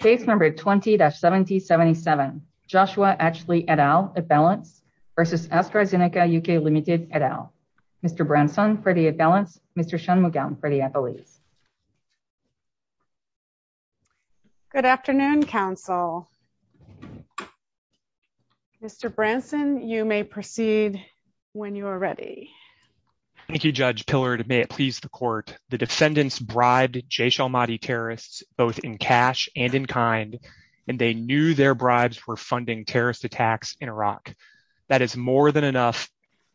Case number 20-1777, Joshua Atchley et al. versus Astrazeneca UK Limited et al. Mr. Branson, Freddie et al. Mr. Schoenmugel, Freddie et al. Good afternoon, counsel. Mr. Branson, you may proceed when you are ready. Thank you, Judge Pillard. May it please the court, the defendants bribed Jaysh al-Mahdi terrorists both in cash and in kind, and they knew their bribes were funding terrorist attacks in Iraq. That is more than enough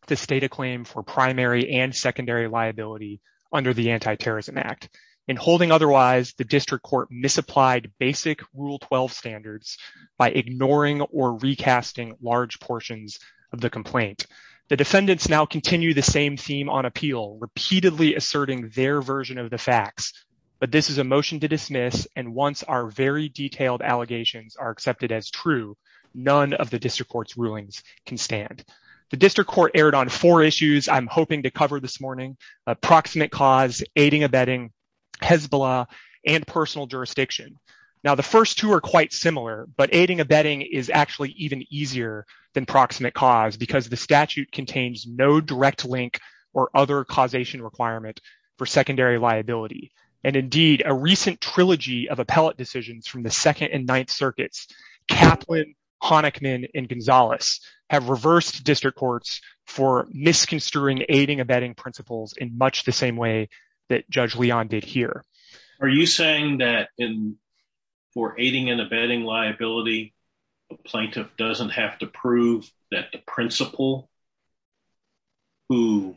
to state a claim for primary and secondary liability under the Anti-Terrorism Act. In holding otherwise, the district court misapplied basic Rule 12 standards by ignoring or recasting large portions of the complaint. The defendants now continue the same theme on appeal, repeatedly asserting their version of the facts. But this is a motion to dismiss, and once our very detailed allegations are accepted as true, none of the district court's rulings can stand. The district court erred on four issues I'm hoping to cover this morning, approximate cause, aiding abetting, Hezbollah, and personal jurisdiction. Now, the first two are quite similar, but aiding abetting is actually even easier than proximate cause, because the statute contains no direct link or other causation requirement for secondary liability. And indeed, a recent trilogy of appellate decisions from the Second and Ninth Circuits, Kaplan, Honickman, and Gonzalez, have reversed district courts for misconsidering aiding abetting principles in much the same way that Judge Leon did here. Are you saying that for aiding and abetting liability, a plaintiff doesn't have to prove that the principal who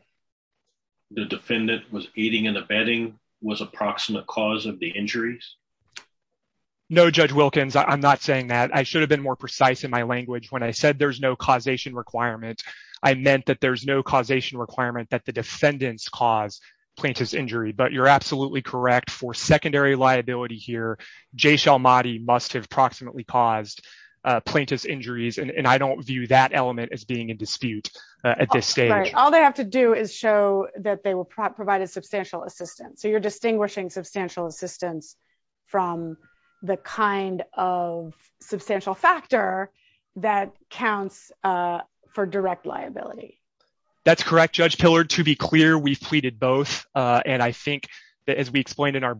the defendant was aiding and abetting was approximate cause of the injuries? No, Judge Wilkins, I'm not saying that. I should have been more precise in my language when I said there's no causation requirement. I meant that there's no causation requirement that the defendants cause plaintiff's injury. But you're absolutely correct for secondary liability here, Jay Shalmati must have approximately caused plaintiff's injuries. And I don't view that element as being in dispute at this stage. All they have to do is show that they will provide a substantial assistance. So you're distinguishing substantial assistance from the kind of substantial factor that counts for direct liability. That's correct, Judge Tiller. To be clear, we've pleaded both. And I think, as we explained in our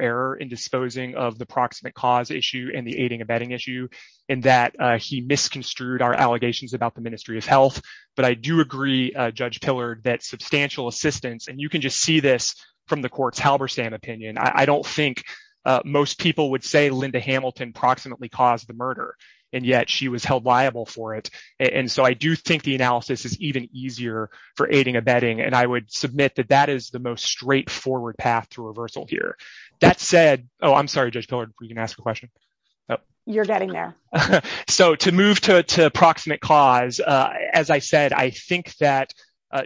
error in disposing of the proximate cause issue and the aiding and abetting issue, in that he misconstrued our allegations about the Ministry of Health. But I do agree, Judge Tiller, that substantial assistance, and you can just see this from the court's Halberstam opinion, I don't think most people would say Linda Hamilton proximately caused the murder, and yet she was held liable for it. And so I do think the analysis is even easier for aiding and abetting. And I would submit that that is the most straightforward path to reversal here. That said, oh, I'm sorry, Judge Tiller, if we can ask a question. You're getting there. So to move to approximate cause, as I said, I think that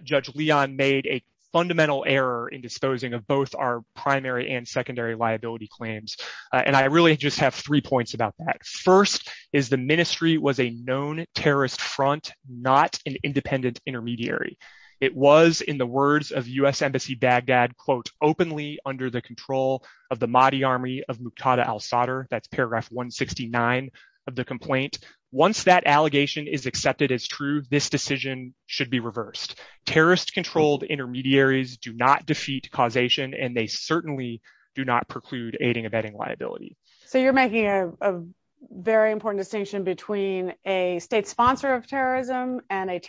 Judge Leon made a fundamental error in disposing of both our primary and secondary liability claims. And I really just have three points about that. First is the ministry was a known terrorist front, not an independent intermediary. It was, in the words of US Embassy Baghdad, quote, openly under the control of the Mahdi Army of Muqtada al-Sadr. That's paragraph 169 of the complaint. Once that allegation is accepted as true, this decision should be reversed. Terrorist-controlled intermediaries do not defeat causation, and they certainly do not preclude aiding and abetting liability. So you're making a very important distinction between a state sponsor of terrorism and a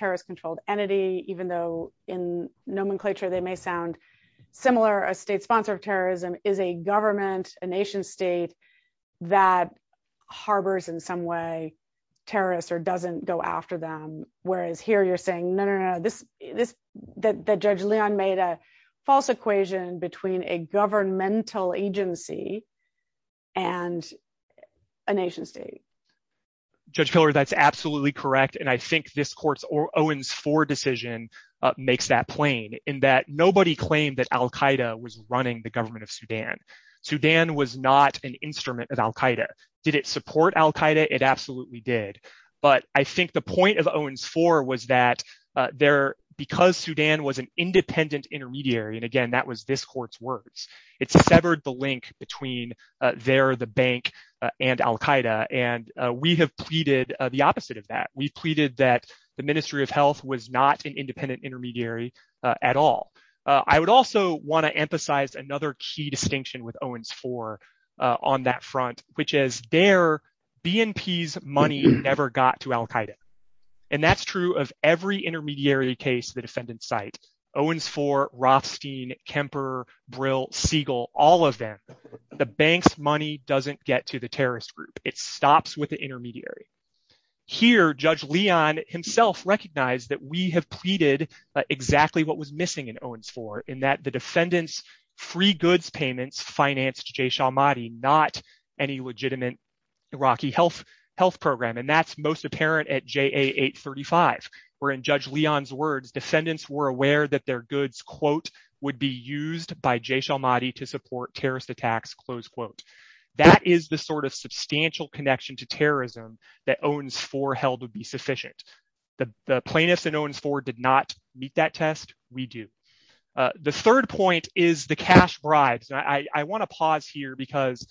nomenclature, they may sound similar, a state sponsor of terrorism is a government, a nation state that harbors in some way terrorists or doesn't go after them. Whereas here, you're saying, no, no, no, that Judge Leon made a false equation between a governmental agency and a nation state. Judge Tiller, that's absolutely correct. And I think this court's decision makes that plain in that nobody claimed that al-Qaeda was running the government of Sudan. Sudan was not an instrument of al-Qaeda. Did it support al-Qaeda? It absolutely did. But I think the point of Owens IV was that because Sudan was an independent intermediary, and again, that was this court's words, it severed the link between there, the bank, and al-Qaeda. And we have pleaded the opposite of that. We pleaded that the Ministry of Health was not an independent intermediary at all. I would also want to emphasize another key distinction with Owens IV on that front, which is their, BNP's money never got to al-Qaeda. And that's true of every intermediary case the defendant cites. Owens IV, Rothstein, Kemper, Brill, Siegel, all of them, the bank's money doesn't get to the terrorist group. It stops with the intermediary. Here, Judge Leon himself recognized that we have pleaded exactly what was missing in Owens IV, in that the defendant's free goods payments financed Jaysh al-Mahdi, not any legitimate Iraqi health program. And that's most apparent at JA 835, where in Judge Leon's words, defendants were aware that their goods, quote, would be used by Jaysh al-Mahdi to support terrorist attacks, close quote. That is the sort of substantial connection to terrorism that Owens IV held would be sufficient. The plaintiffs in Owens IV did not meet that test. We do. The third point is the cash bribes. I want to pause here because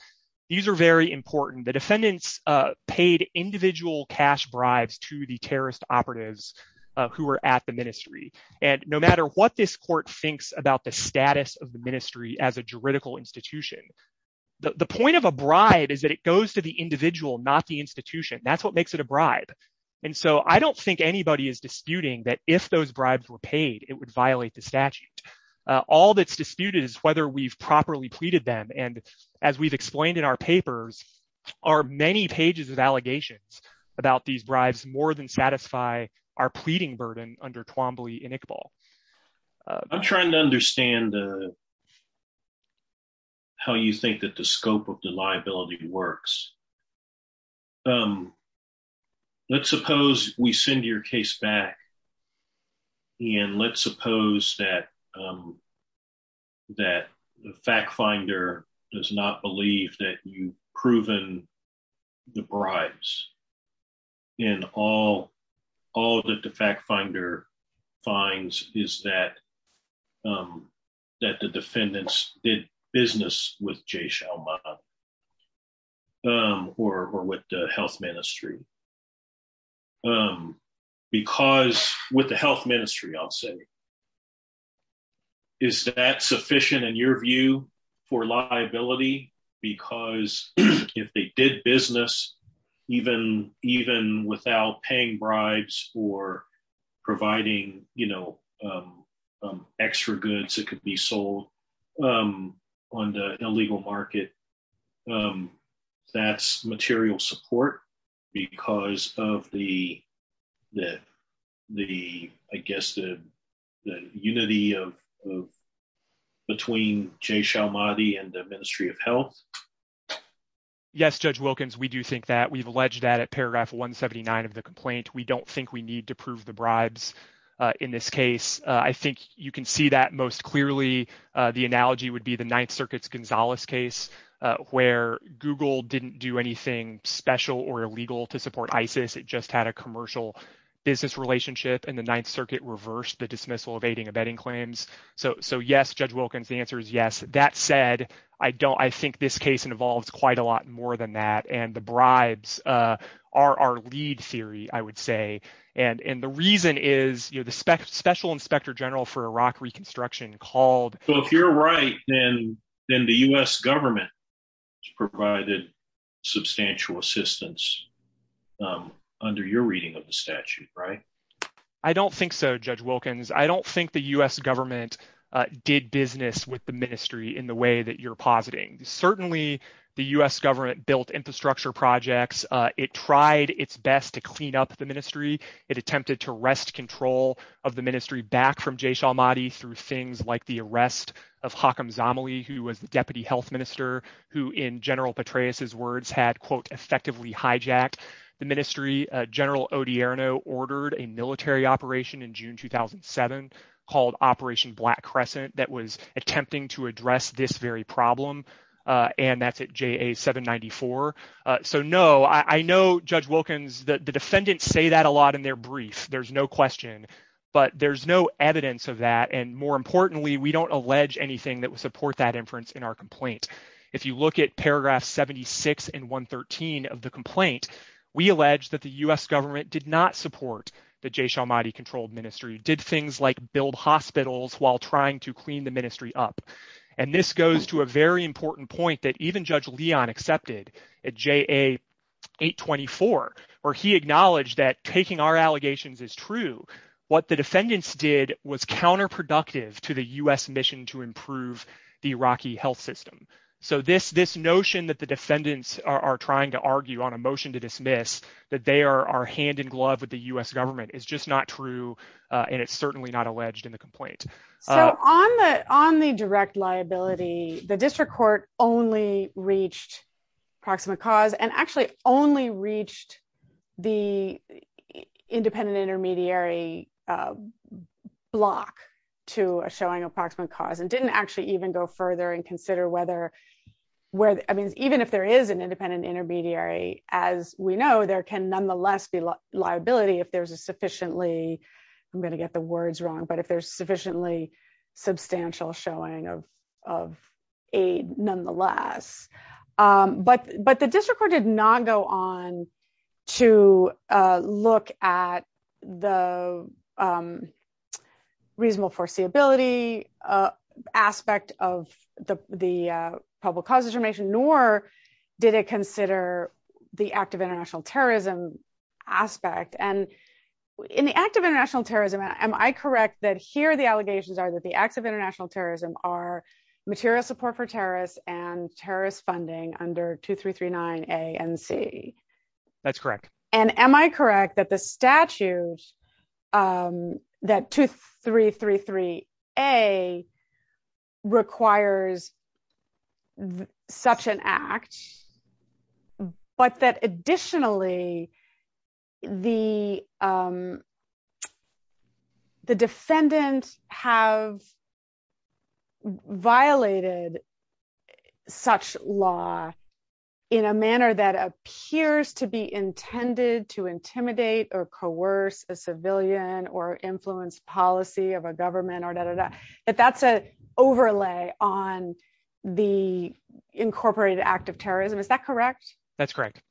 these are very important. Defendants paid individual cash bribes to the terrorist operatives who were at the ministry. And no matter what this court thinks about the status of the ministry as a juridical institution, the point of a bribe is that it goes to the individual, not the institution. That's what makes it a bribe. And so I don't think anybody is disputing that if those bribes were paid, it would violate the statute. All that's disputed is whether we've properly pleaded them. And as we've explained in our papers, our many pages of allegations about these bribes more than satisfy our pleading burden under Twombly and Iqbal. I'm trying to understand how you think that the scope of the liability works. Let's suppose we send your case back and let's suppose that the fact finder does not believe that you've proven the bribes. And all that the fact finder finds is that the defendants did business with Jay Shalman or with the health ministry. Because with the health ministry, I'll say, is that sufficient in your view for liability? Because if they did business even without paying bribes or providing extra goods that could be on the illegal market, that's material support because of the, I guess, the unity between Jay Shalman and the ministry of health? Yes, Judge Wilkins, we do think that. We've alleged that at paragraph 179 of the complaint. We don't think we need to prove the bribes in this case. I think you can see that most clearly. The analogy would be the Ninth Circuit's Gonzales case where Google didn't do anything special or illegal to support ISIS. It just had a commercial business relationship and the Ninth Circuit reversed the dismissal of aiding and abetting claims. So yes, Judge Wilkins, the answer is yes. That said, I think this case involves quite a lot more than that and the bribes are our lead theory, I would say. And the reason is the Special Inspector General for Iraq Reconstruction called. So if you're right, then the U.S. government provided substantial assistance under your reading of the statute, right? I don't think so, Judge Wilkins. I don't think the U.S. government did business with the ministry in the way that you're positing. Certainly, the U.S. government built infrastructure projects. It tried its best to clean up the ministry. It attempted to wrest control of the ministry back from Jaysh al-Mahdi through things like the arrest of Hakim Zamali, who was the Deputy Health Minister, who in General Petraeus' words had, quote, effectively hijacked the ministry. General Odierno ordered a military operation in June 2007 called Operation Black Crescent that was attempting to address this problem, AMF at JA 794. So no, I know, Judge Wilkins, the defendants say that a lot in their brief. There's no question. But there's no evidence of that. And more importantly, we don't allege anything that would support that inference in our complaint. If you look at paragraphs 76 and 113 of the complaint, we allege that the U.S. government did not support the Jaysh al-Mahdi-controlled ministry, did things like build hospitals while trying to clean the ministry up. And this goes to a very important point that even Judge Leon accepted at JA 824, where he acknowledged that taking our allegations is true. What the defendants did was counterproductive to the U.S. mission to improve the Iraqi health system. So this notion that the defendants are trying to argue on a motion to dismiss, that they are hand in glove with the U.S. government is just not true. And it's certainly not alleged in the complaint. On the on the direct liability, the district court only reached proximate cause and actually only reached the independent intermediary block to a showing approximate cause and didn't actually even go further and consider whether, where, I mean, even if there is an independent intermediary, as we know, there can nonetheless be liability if there's a sufficiently, I'm going to get the words wrong, but if there's sufficiently substantial showing of aid nonetheless. But the district court did not go on to look at the reasonable foreseeability aspect of the public cause information, nor did it consider the act of international terrorism aspect. And in the act of international terrorism, am I correct that here the allegations are that the acts of international terrorism are material support for terrorists and terrorist funding under 2339 A and C? That's correct. And am I correct that the statutes that 2333 A requires such an act, but that additionally, the defendants have violated such law in a manner that appears to be intended to intimidate or coerce a civilian or influence policy of a government or that, that's a overlay on the incorporated act of terrorism. Is that correct? That's correct.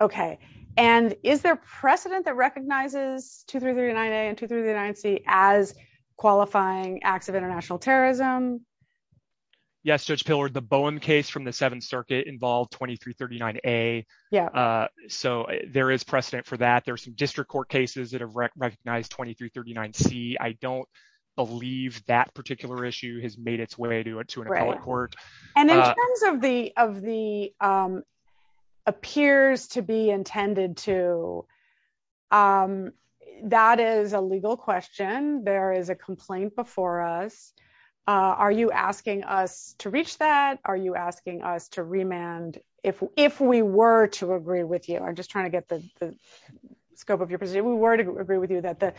Okay. And is there precedent that recognizes 2339 A and 2339 C as qualifying acts of international terrorism? Yes, Judge Pillard, the Bowen case from the seventh circuit involved 2339 A. So there is precedent for that. There's some district court cases that have recognized 2339 C. I don't believe that particular issue has made its way to an appellate court. And in terms of the appears to be intended to, that is a legal question. There is a complaint before us. Are you asking us to reach that? Are you asking us to remand? If we were to agree with you, I'm just trying to get the scope of your presentation. If we were to agree with you that the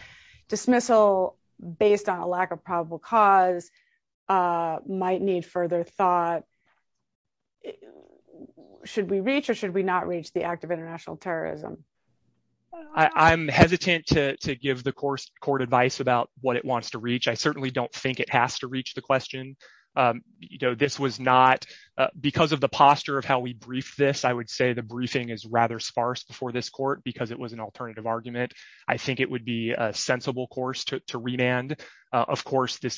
dismissal based on a lack of probable cause might need further thought, should we reach or should we not reach the act of international terrorism? I'm hesitant to give the court advice about what it wants to reach. I certainly don't think it has to reach the question. This was not, because of the posture of how we brief this, I would say the briefing is rather sparse before this court because it was an alternative argument. I think it would be a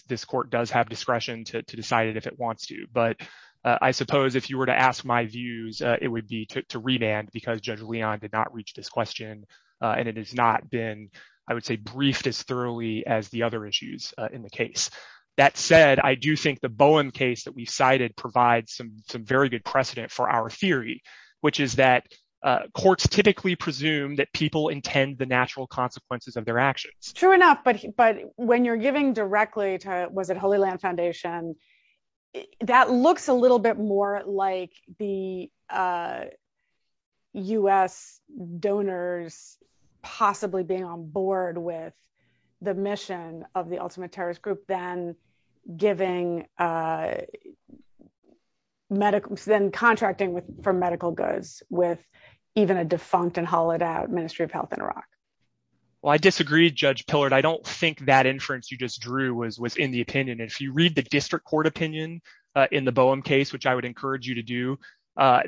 this court does have discretion to decide if it wants to. But I suppose if you were to ask my views, it would be to remand because Judge Leon did not reach this question and it has not been, I would say, briefed as thoroughly as the other issues in the case. That said, I do think the Bowen case that we cited provides some very good precedent for our theory, which is that courts typically presume that people intend the natural consequences of their actions. True enough, but when you're giving directly to, was it Holy Land Foundation, that looks a little bit more like the US donors possibly being on board with the mission of the ultimate terrorist group than giving medical, than contracting for medical goods with even a defunct and hollowed out Ministry of Health in Iraq. Well, I disagree, Judge Pillard. I don't think that inference you just drew was within the opinion. If you read the district court opinion in the Bowen case, which I would encourage you to do,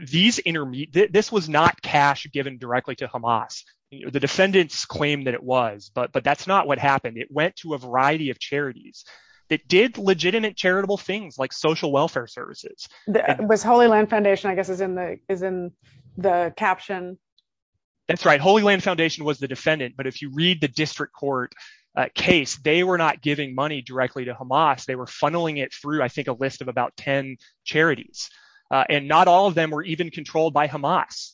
this was not cash given directly to Hamas. The defendants claimed that it was, but that's not what happened. It went to a variety of charities that did legitimate charitable things like social welfare services. With Holy Land Foundation, I guess is in the caption. That's right. Holy Land Foundation was a defendant, but if you read the district court case, they were not giving money directly to Hamas. They were funneling it through, I think, a list of about 10 charities. And not all of them were even controlled by Hamas.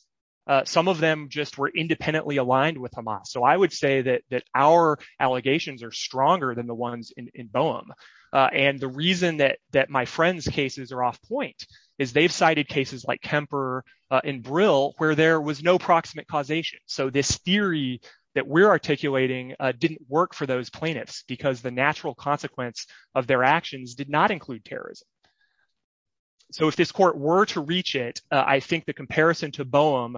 Some of them just were independently aligned with Hamas. So I would say that our allegations are stronger than the ones in Bowen. And the reason that my friend's cases are off point is they've cited cases like Kemper and Brill, where there was no proximate causation. So this theory that we're articulating didn't work for those plaintiffs because the natural consequence of their actions did not include terrorism. So if this court were to reach it, I think the comparison to Bowen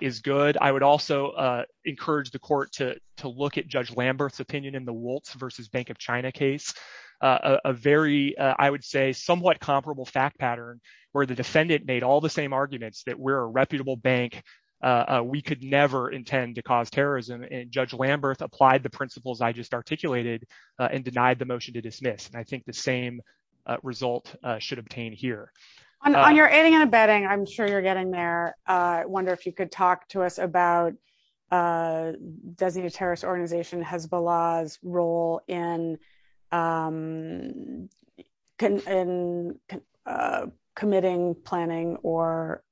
is good. I would also encourage the court to look at Judge Lamberth's opinion in the Woltz versus Bank of China case. A very, I would say, somewhat comparable fact pattern, where the defendant made all the same arguments that we're a reputable bank. We could never intend to cause terrorism. And Judge Lamberth applied the principles I just articulated and denied the motion to dismiss. And I think the same result should obtain here. On your ending and abetting, I'm sure you're getting there. I wonder if you could talk to us about Desi's terrorist organization Hezbollah's role in committing, planning, or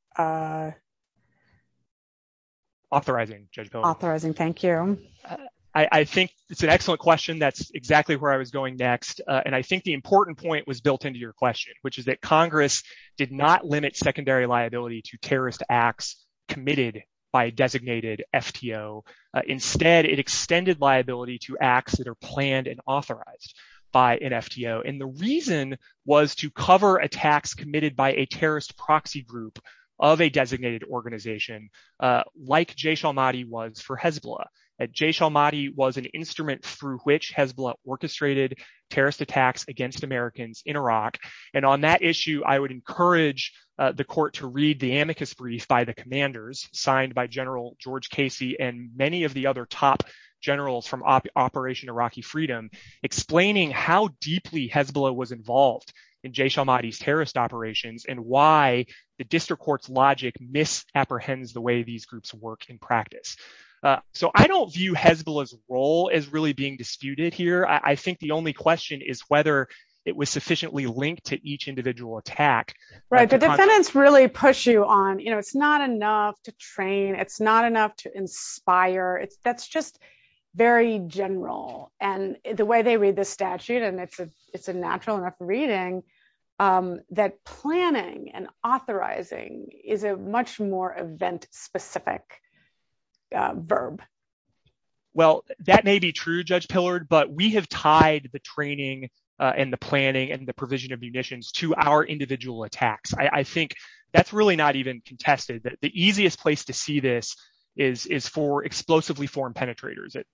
authorizing Hezbollah. Authorizing, thank you. I think it's an excellent question. That's exactly where I was going next. And I think the important point was built into your question, which is that Congress did not limit secondary liability to terrorist acts committed by a designated FTO. Instead, it extended liability to acts that are planned and authorized by an FTO. And the reason was to cover attacks committed by a terrorist proxy group of a designated organization, like Jaysh al-Mahdi was for Hezbollah. Jaysh al-Mahdi was an instrument through which Hezbollah orchestrated terrorist attacks against Americans in Iraq. And on that issue, I would encourage the court to read the amicus brief by the commanders signed by General George Casey and many of the other top generals from Operation Iraqi Freedom, explaining how deeply Hezbollah was involved in Jaysh al-Mahdi's terrorist operations and why the district court's logic misapprehends the way these groups work in practice. So I don't view Hezbollah's role as really being disputed here. I think the only question is whether it was sufficiently linked to each individual attack. Right, the defendants really push you on, you know, it's not enough to train, it's not enough to inspire. That's just very general. And the way they read the statute, and it's a natural enough reading, that planning and authorizing is a much more event-specific verb. Well, that may be true, Judge Pillard, but we have tied the training and the planning and provision of munitions to our individual attacks. I think that's really not even contested. The easiest place to see this is for explosively formed penetrators. It's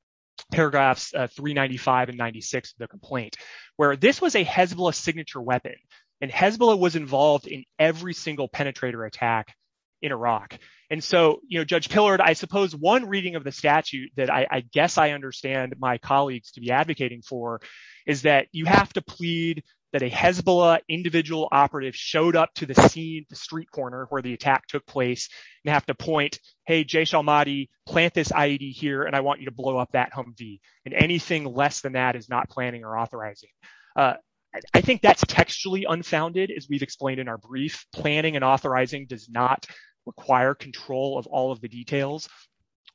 paragraphs 395 and 96 of the complaint, where this was a Hezbollah signature weapon, and Hezbollah was involved in every single penetrator attack in Iraq. And so, you know, Judge Pillard, I suppose one reading of the statute that I guess I understand my colleagues to be advocating for is that you have to plead that a Hezbollah individual operative showed up to the street corner where the attack took place and have to point, hey, Jaysh al-Mahdi, plant this IED here, and I want you to blow up that Humvee. And anything less than that is not planning or authorizing. I think that's textually unfounded, as we've explained in our brief. Planning and authorizing does not require control of all of the details.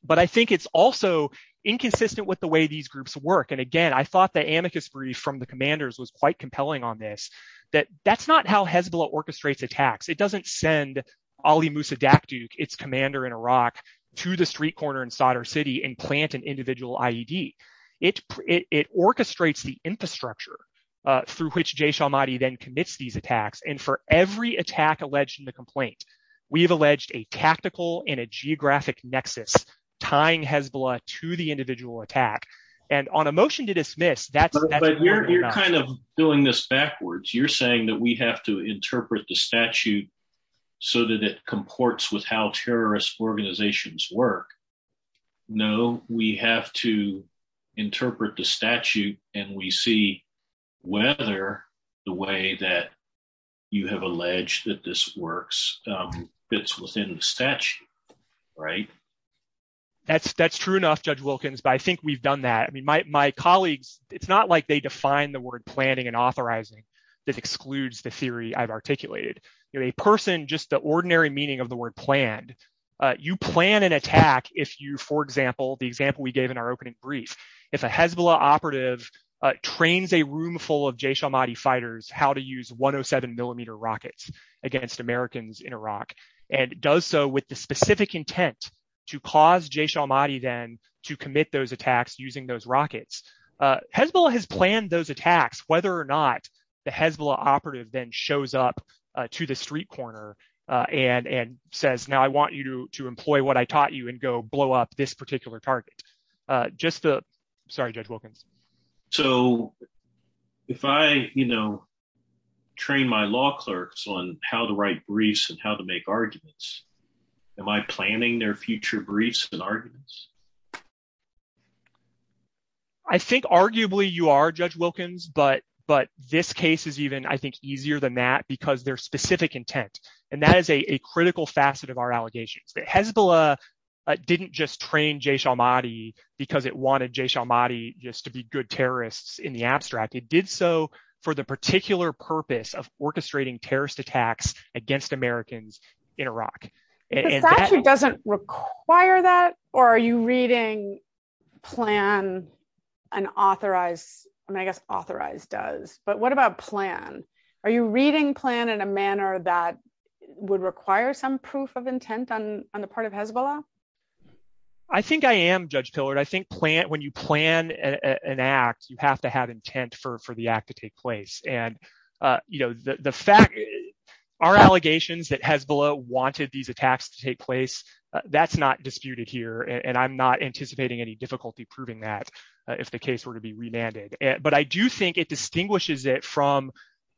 But I think it's also inconsistent with the way these groups work. And again, I thought the amicus brief from the commanders was quite compelling on this, that that's not how Hezbollah orchestrates attacks. It doesn't send Ali Musa Daqduq, its commander in Iraq, to the street corner in Sadr City and plant an individual IED. It orchestrates the infrastructure through which Jaysh al-Mahdi then commits these attacks. And for every attack alleged in the complaint, we've alleged a tactical and a geographic nexus tying Hezbollah to the individual attack. And on a motion to dismiss, that's not... But you're kind of doing this backwards. You're saying that we have to interpret the statute so that it comports with how terrorist organizations work. No, we have to interpret the statute and we see whether the way that you have alleged that this works fits within the statute. That's true enough, Judge Wilkins, but I think we've done that. I mean, my colleagues, it's not like they define the word planning and authorizing. This excludes the theory I've articulated. A person, just the ordinary meaning of the word planned, you plan an attack if you, for example, the example we gave in our opening brief, if a Hezbollah operative trains a room full of Jaysh al-Mahdi fighters how to use 107 millimeter rockets against Americans in Iraq, and does so with the specific intent to cause Jaysh al-Mahdi then to commit those attacks using those rockets. Hezbollah has planned those attacks, whether or not the Hezbollah operative then shows up to the street corner and says, now I want you to employ what I taught you and go blow up this particular target. Just the... Sorry, Judge Wilkins. So if I train my law clerks on how to write briefs and how to make arguments, am I planning their future briefs and arguments? I think arguably you are, Judge Wilkins, but this case is even, I think, easier than that because their specific intent. And that is a critical facet of our allegations. Hezbollah didn't just train Jaysh al-Mahdi because it wanted Jaysh al-Mahdi just to be good terrorists in the abstract. It did so for the particular purpose of orchestrating terrorist attacks against Americans in Iraq. It actually doesn't require that, or are you reading plan an authorized... I guess authorized does, but what about plan? Are you reading plan in a manner that would require some proof of intent on the part of Hezbollah? I think I am, Judge Pillard. I think when you plan an act, you have to have intent for the act to take place. And the fact... Our allegations that Hezbollah wanted these attacks to take place, that's not disputed here, and I'm not anticipating any difficulty proving that if the case were to be remanded. But I do think it distinguishes it from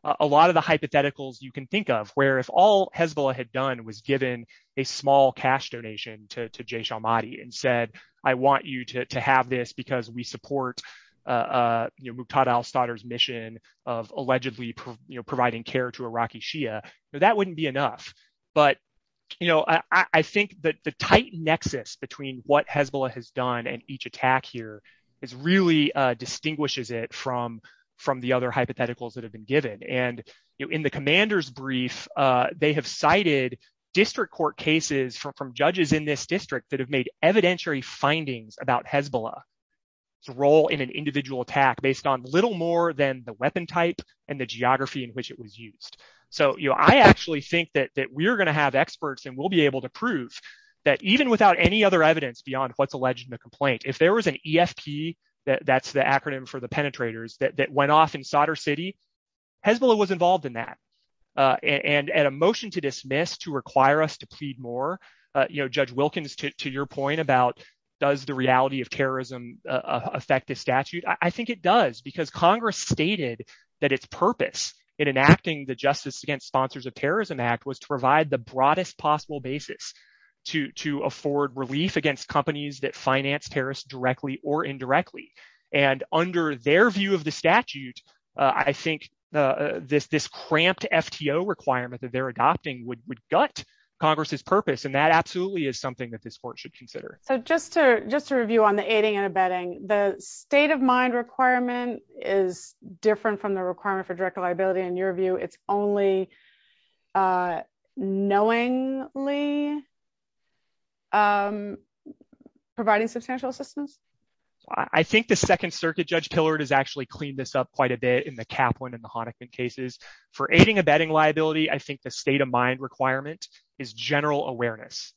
a lot of the hypotheticals you can think of, where if all Hezbollah had done was given a small cash donation to Jaysh al-Mahdi and said, I want you to have this because we support Muqtada al-Sadr's mission of allegedly providing care to Iraqi Shia, that wouldn't be enough. But I think that the tight nexus between what Hezbollah has done and each attack here really distinguishes it from the other hypotheticals that have been given. And in the commander's brief, they have cited district court cases from judges in this district that have made evidentiary findings about Hezbollah's role in an individual attack based on little more than the weapon type and the geography in which it was used. So I actually think that we're going to have experts and we'll be able to prove that even without any other that's the acronym for the penetrators that went off in Sadr City, Hezbollah was involved in that. And at a motion to dismiss to require us to plead more, Judge Wilkins, to your point about does the reality of terrorism affect the statute? I think it does because Congress stated that its purpose in enacting the Justice Against Sponsors of Terrorism Act was to provide the broadest basis to afford relief against companies that finance terrorists directly or indirectly. And under their view of the statute, I think this cramped FTO requirement that they're adopting would gut Congress's purpose. And that absolutely is something that this court should consider. So just to review on the aiding and abetting, the state of mind requirement is different from the liability. Providing substantial assistance? I think the Second Circuit Judge Tillard has actually cleaned this up quite a bit in the Kaplan and the Honokin cases. For aiding and abetting liability, I think the state of mind requirement is general awareness.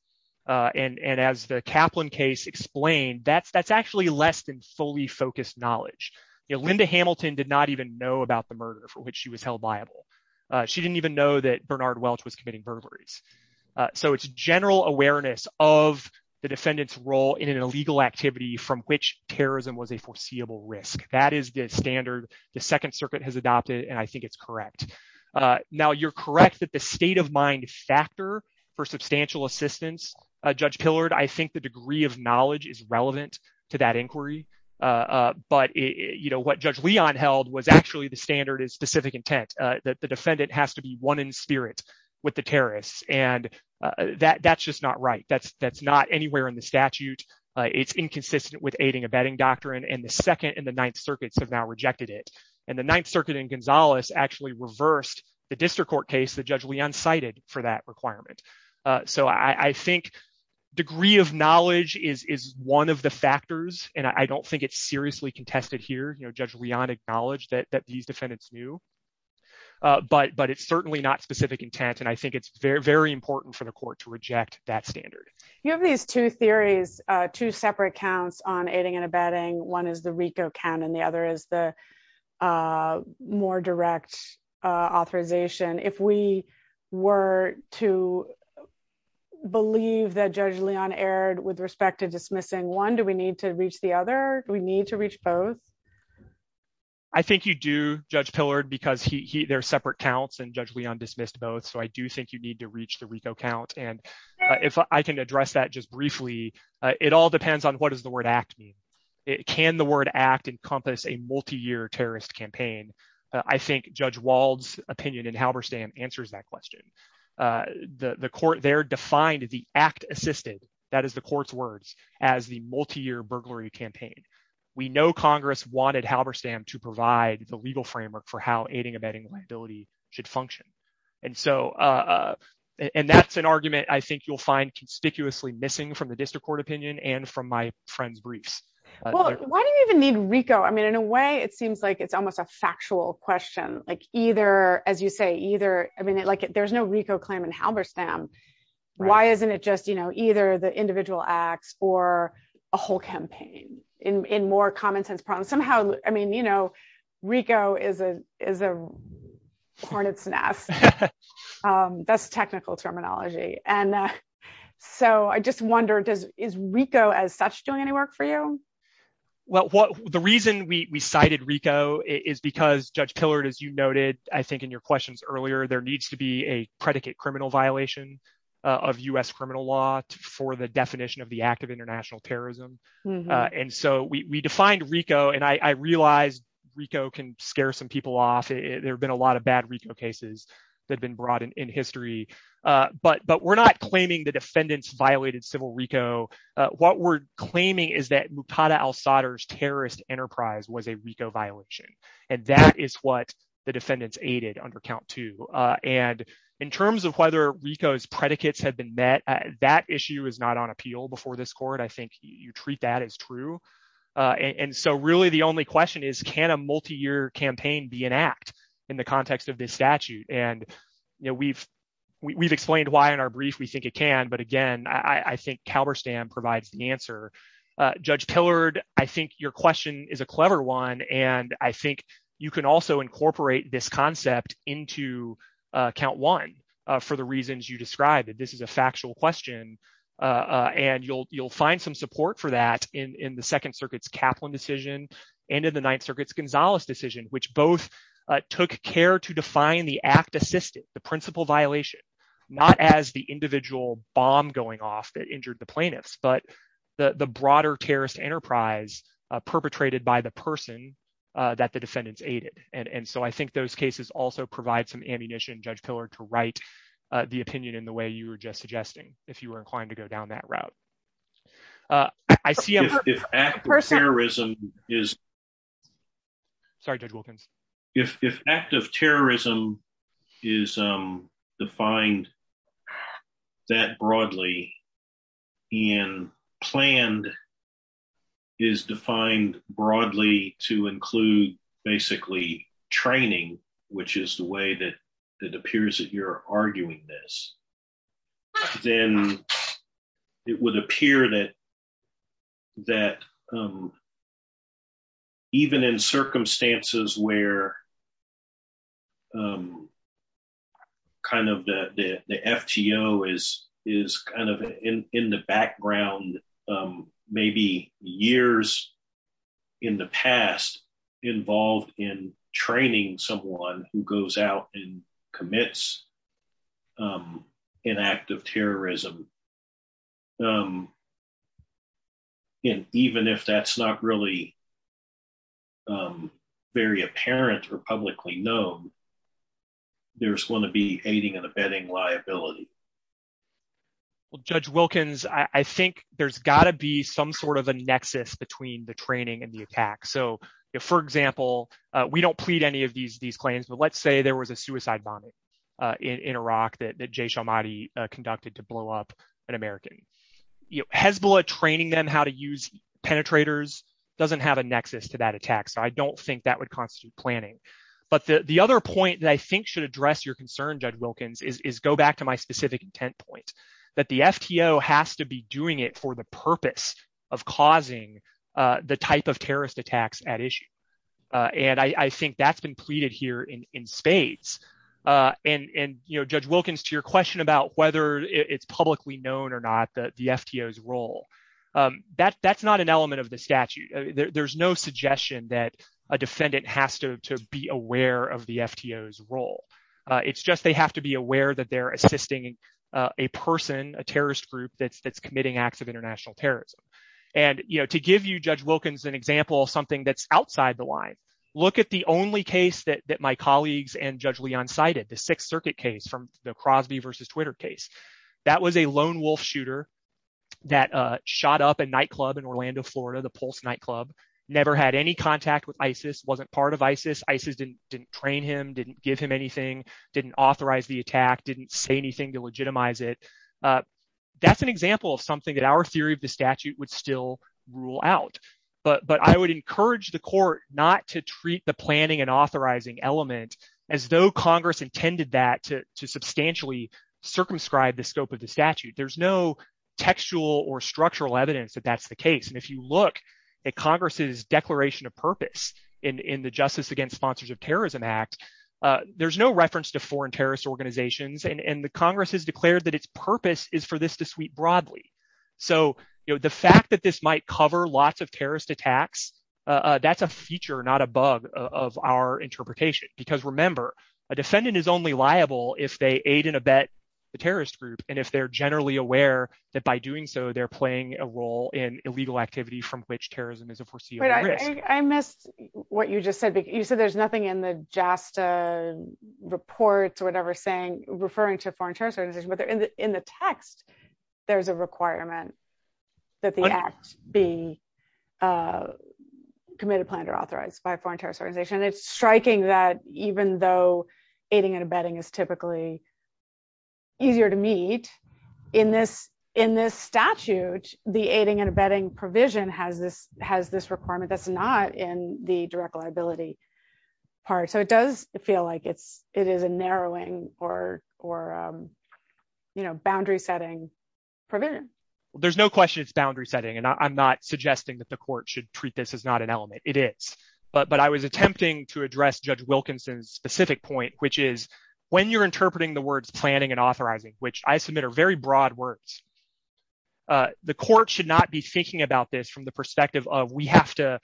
And as the Kaplan case explained, that's actually less than fully focused knowledge. Linda Hamilton did not even know about the murder for which she was held liable. She didn't even know that Bernard Welch was committing murder. So it's general awareness of the defendant's role in an illegal activity from which terrorism was a foreseeable risk. That is the standard the Second Circuit has adopted, and I think it's correct. Now, you're correct that the state of mind factor for substantial assistance, Judge Tillard, I think the degree of knowledge is relevant to that inquiry. But what Judge Leon held was actually the standard is specific intent. The defendant has to be one in spirit with the terrorists, and that's just not right. That's not anywhere in the statute. It's inconsistent with aiding and abetting doctrine, and the Second and the Ninth Circuits have now rejected it. And the Ninth Circuit in Gonzales actually reversed the district court case that Judge Leon cited for that requirement. So I think degree of knowledge is one of the factors, and I don't think it's seriously contested here. Judge Leon acknowledged that these defendants knew, but it's certainly not specific intent, and I think it's very important for the court to reject that standard. You have these two theories, two separate counts on aiding and abetting. One is the RICO count, and the other is the more direct authorization. If we were to believe that Judge Leon erred with respect to dismissing one, do we need to reach the other? Do we need to reach both? I think you do, Judge Pillard, because there are separate counts, and Judge Leon dismissed both, so I do think you need to reach the RICO count. And if I can address that just briefly, it all depends on what does the word act mean. Can the word act encompass a multi-year terrorist campaign? I think Judge Wald's opinion in Halberstam answers that question. The court there defined the act assisted, that is the court's words, as the multi-year burglary campaign. We know Congress wanted Halberstam to provide the legal framework for how aiding and abetting liability should function, and that's an argument I think you'll find conspicuously missing from the district court opinion and from my friend's brief. Why do you even need RICO? I mean, in a way, it seems like it's almost a factual question. As you say, there's no RICO claim in Halberstam. Why isn't it just either the a whole campaign in more common-sense problems? Somehow, I mean, you know, RICO is a hornet's nest. That's technical terminology. And so I just wonder, is RICO as such doing any work for you? Well, the reason we cited RICO is because, Judge Pillard, as you noted, I think in your questions earlier, there needs to be a predicate criminal violation of U.S. criminal law for the definition of the act of international terrorism. And so we defined RICO, and I realize RICO can scare some people off. There have been a lot of bad RICO cases that have been brought in history. But we're not claiming the defendants violated civil RICO. What we're claiming is that Muqtada al-Sadr's terrorist enterprise was a RICO violation, and that is what the defendants aided under count two. And in terms of whether RICO's predicates have been met, that issue is not on appeal before this court. I think you treat that as true. And so really the only question is, can a multi-year campaign be an act in the context of this statute? And, you know, we've explained why in our brief we think it can, but again, I think Halberstam provides the answer. Judge Pillard, I think your question is a clever one, and I think you can also incorporate this concept into count one for the reasons you described, that this is a factual question. And you'll find some support for that in the Second Circuit's Kaplan decision and in the Ninth Circuit's Gonzalez decision, which both took care to define the act assisted, the principal violation, not as the individual bomb going off that injured the that the defendants aided. And so I think those cases also provide some ammunition, Judge Pillard, to write the opinion in the way you were just suggesting, if you were inclined to go down that route. If act of terrorism is defined that broadly and planned is defined broadly to include basically training, which is the way that it appears that you're arguing this, then it would appear that even in circumstances where kind of the FTO is kind of in the background, maybe years in the past involved in training someone who goes out and commits an act of terrorism. And even if that's not really very apparent or publicly known, there's going to be aiding and abetting liability. Well, Judge Wilkins, I think there's got to be some sort of a nexus between the training and the attack. So, for example, we don't plead any of these claims, but let's say there was a suicide bombing in Iraq that Jay Sharmati conducted to blow up an American. Hezbollah training them how to use penetrators doesn't have a nexus to that attack. So I don't think that would constitute planning. But the other point that I think should address your concern, Judge Wilkins, is go back to my specific intent point, that the FTO has to be doing it for the purpose of causing the type of terrorist attacks at issue. And I think that's been pleaded here in spades. And, you know, Judge Wilkins, to your question about whether it's publicly known or not the FTO's role, that's not an element of the statute. There's no suggestion that a defendant has to be aware of the FTO's role. It's just they have to be aware that they're assisting a person, a terrorist group, that's committing acts of international terrorism. And, you know, to give you, Judge Wilkins, an example of something that's outside the line, look at the only case that my colleagues and Judge Leon cited, the Sixth Circuit case from Crosby versus Twitter case. That was a lone wolf shooter that shot up a nightclub in Orlando, Florida, the Pulse nightclub, never had any contact with ISIS, wasn't part of ISIS. ISIS didn't train him, didn't give him anything, didn't authorize the attack, didn't say anything to legitimize it. That's an example of something that our theory of the statute would still rule out. But I would encourage the court not to treat the planning and authorizing element as though Congress intended that to substantially circumscribe the scope of the statute. There's no textual or structural evidence that that's the case. And if you look at Congress's declaration of purpose in the Justice Against Sponsors of Terrorism Act, there's no reference to foreign terrorist organizations and the Congress has declared that its purpose is for this to sweep broadly. So, you know, the fact that this might cover lots of terrorist attacks, that's a feature not above of our interpretation. Because remember, a defendant is only liable if they aid and abet the terrorist group. And if they're generally aware that by doing so, they're playing a role in illegal activity from which terrorism is a foreseeable risk. I missed what you just said. You said there's nothing in the JASTA reports or whatever saying referring to foreign terrorist organizations, but in the text, there's a requirement that the act be committed, planned, authorized by a foreign terrorist organization. It's striking that even though aiding and abetting is typically easier to meet in this statute, the aiding and abetting provision has this requirement that's not in the direct liability part. So it does feel like it is a narrowing or you know, boundary setting provision. There's no question it's boundary setting and I'm not but I was attempting to address Judge Wilkinson's specific point, which is when you're interpreting the words planning and authorizing, which I submit are very broad words, the court should not be thinking about this from the perspective of we have to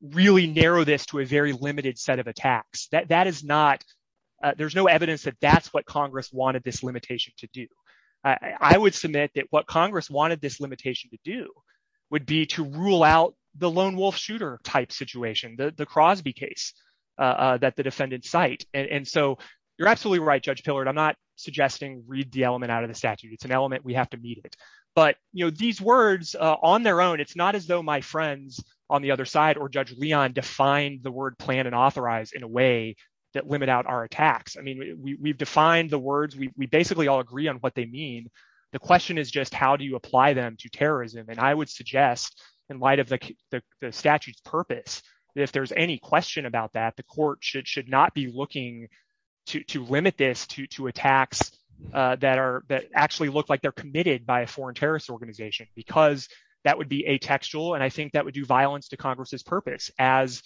really narrow this to a very limited set of attacks. That is not, there's no evidence that that's what Congress wanted this limitation to do. I would submit that what Congress wanted this limitation to do would be to rule out the lone wolf shooter type situation, the Crosby case that the defendant cite. And so you're absolutely right, Judge Pillard, I'm not suggesting read the element out of the statute. It's an element we have to meet it. But you know, these words on their own, it's not as though my friends on the other side or Judge Leon defined the word plan and authorize in a way that limit out our attacks. I mean, we've defined the words, we basically all agree on what they mean. The question is just how do you apply them to terrorism? And I would suggest, in light of the statute's purpose, that if there's any question about that, the court should not be looking to limit this to attacks that are that actually look like they're committed by a foreign terrorist organization, because that would be atextual. And I think that would do violence to Congress's purpose as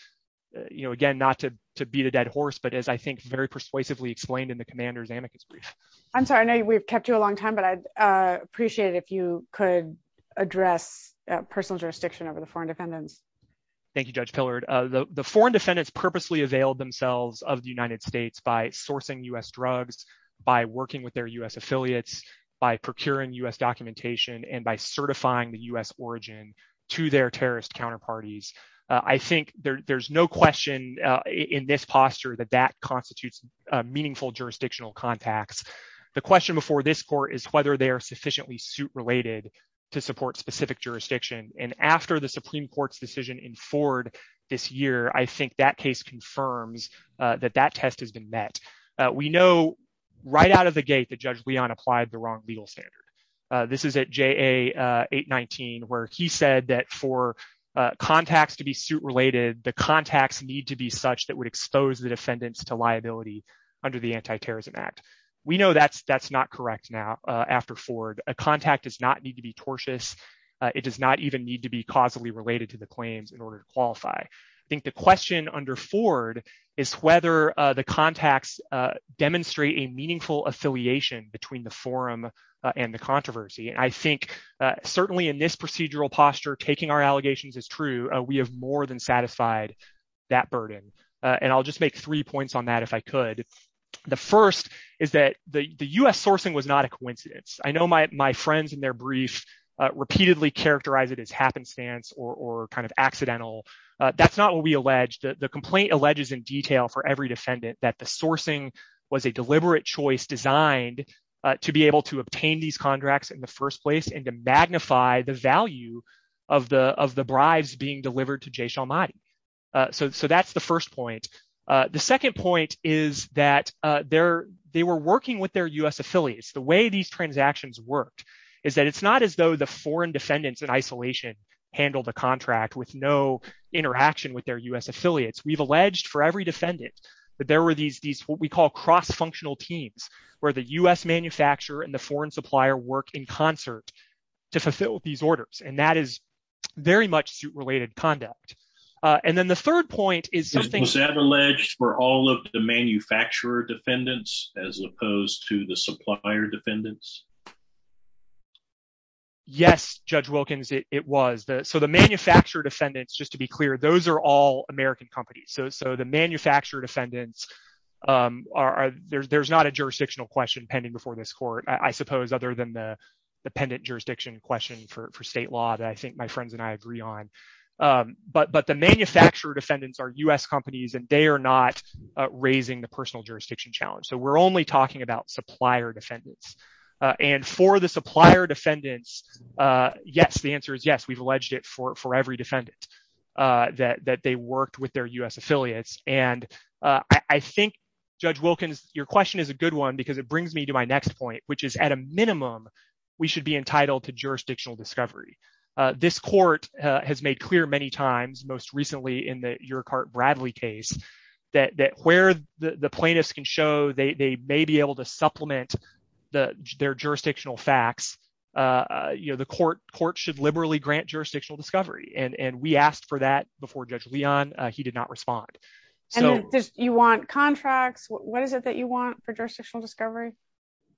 you know, again, not to beat a dead horse, but as I think very persuasively explained in the commander's amicus brief. I'm sorry, I know we've kept you a long time, but I'd appreciate it if you could address personal jurisdiction over the foreign defendants. Thank you, Judge Pillard. The foreign defendants purposely availed themselves of the United States by sourcing US drugs, by working with their US affiliates, by procuring US documentation, and by certifying the US origin to their terrorist counterparties. I think there's no question in this posture that that constitutes meaningful jurisdictional contacts. The question before this court is whether they are sufficiently suit-related to support specific jurisdiction. And after the Supreme Court's decision in Ford this year, I think that case confirms that that test has been met. We know right out of the gate that Judge Leon applied the wrong legal standards. This is at JA 819, where he said that for contacts to be suit-related, the contacts need to be such that would expose the defendants to liability under the Antiterrorism Act. We know that's not correct now after Ford. A contact does not need to be tortious. It does not even need to be causally related to the claims in order to qualify. I think the question under Ford is whether the contacts demonstrate a meaningful affiliation between the forum and the controversy. And I think certainly in this procedural posture, taking our allegations as true, we have more than satisfied that burden. And I'll just make three points on that if I could. The first is that the US sourcing was not a coincidence. I know my friends in their brief repeatedly characterize it as happenstance or kind of accidental. That's not what we alleged. The complaint alleges in detail for every defendant that the sourcing was a deliberate choice designed to be able to obtain these contracts in the first place and to magnify the value of the bribes being delivered to Jay Shalmati. So that's the first point. The second point is that they were working with their US affiliates. The way these transactions worked is that it's not as though the foreign defendants in isolation handled the contract with no interaction with their US affiliates. We've alleged for every defendant that there were these what we call cross-functional teams where the US manufacturer and the foreign supplier worked in concert to fulfill these orders. And that is very much suit-related conduct. And then the third point is- Was that alleged for all of the manufacturer defendants as opposed to the supplier defendants? Yes, Judge Wilkins, it was. So the manufacturer defendants, just to be clear, those are all American companies. So the manufacturer defendants, there's not a jurisdictional question pending before this court, I suppose, other than the pendant jurisdiction question for state law that I think my friends and I agree on. But the manufacturer defendants are US companies, and they are not raising the personal jurisdiction challenge. So we're only talking about supplier defendants. And for the supplier defendants, yes, the answer is yes, we've alleged it for every defendant that they worked with their US affiliates. And I think, Judge Wilkins, that's a good one, because it brings me to my next point, which is at a minimum, we should be entitled to jurisdictional discovery. This court has made clear many times, most recently in the Urquhart-Bradley case, that where the plaintiffs can show they may be able to supplement their jurisdictional facts, the court should liberally grant jurisdictional discovery. And we asked for that before Judge Leon. He did not respond. And you want contracts? What is it that you want for jurisdictional discovery?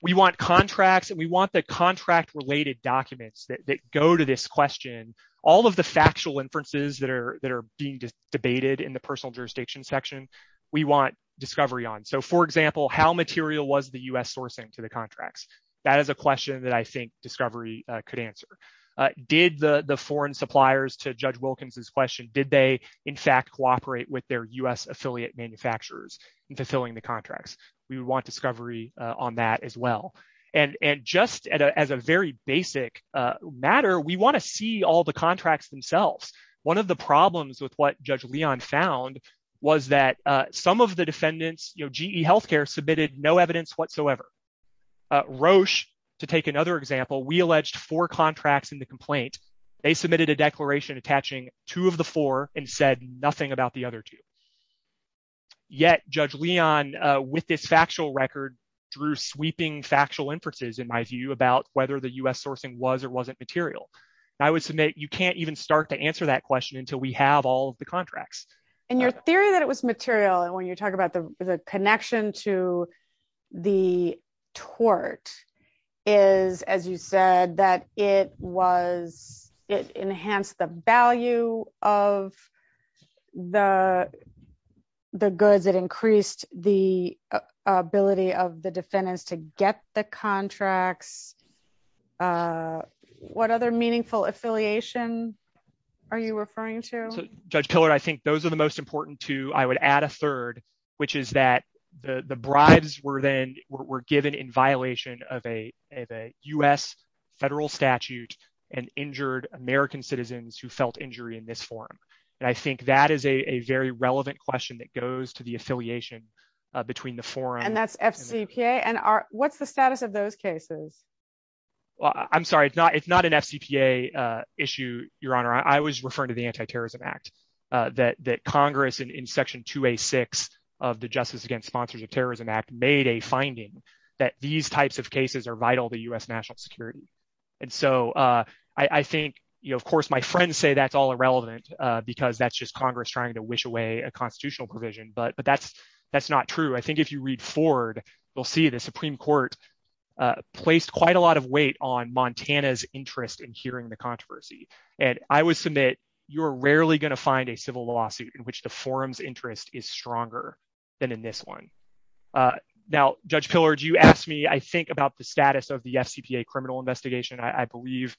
We want contracts, and we want the contract-related documents that go to this question. All of the factual inferences that are being debated in the personal jurisdiction section, we want discovery on. So for example, how material was the US sourcing to the contracts? That is a question that I think discovery could answer. Did the foreign suppliers, to Judge Wilkins' question, did they, in fact, cooperate with their US affiliate manufacturers in fulfilling the contracts? We would want discovery on that as well. And just as a very basic matter, we want to see all the contracts themselves. One of the problems with what Judge Leon found was that some of the defendants, you know, GE Healthcare, submitted no evidence whatsoever. Roche, to take another example, we alleged four contracts in the complaint. They submitted a declaration attaching two of the four and said nothing about the other two. Yet, Judge Leon, with this factual record, drew sweeping factual inferences, in my view, about whether the US sourcing was or wasn't material. I would submit you can't even start to answer that question until we have all of the contracts. And your theory that it was material, and when you talk about the connection to the tort, is, as you said, that it was, it enhanced the value of the goods, it increased the ability of the defendants to get the contracts. What other meaningful affiliations are you referring to? Judge Pillard, I think those are the most important two. I would add a third, which is that the bribes were then, were given in violation of a US federal statute and injured American citizens who felt injury in this forum. And I think that is a very relevant question that goes to the affiliation between the forum. And that's FCPA? And what's the status of those cases? Well, I'm sorry, it's not an FCPA issue, Your Honor. I was referring to the Anti-Terrorism Act, that Congress, in Section 2A6 of the Justice Against Sponsors of Terrorism Act, made a finding that these types of cases are vital to US national security. And so I think, you know, of course, my friends say that's all irrelevant, because that's just Congress trying to wish away a constitutional provision. But that's not true. I think if you read forward, you'll see the Supreme Court placed quite a lot of weight on Montana's interest in hearing the controversy. And I would submit, you are rarely going to find a civil lawsuit in which the forum's interest is stronger than in this one. Now, Judge Pillard, you asked me, I think, about the status of the FCPA criminal investigation. I believe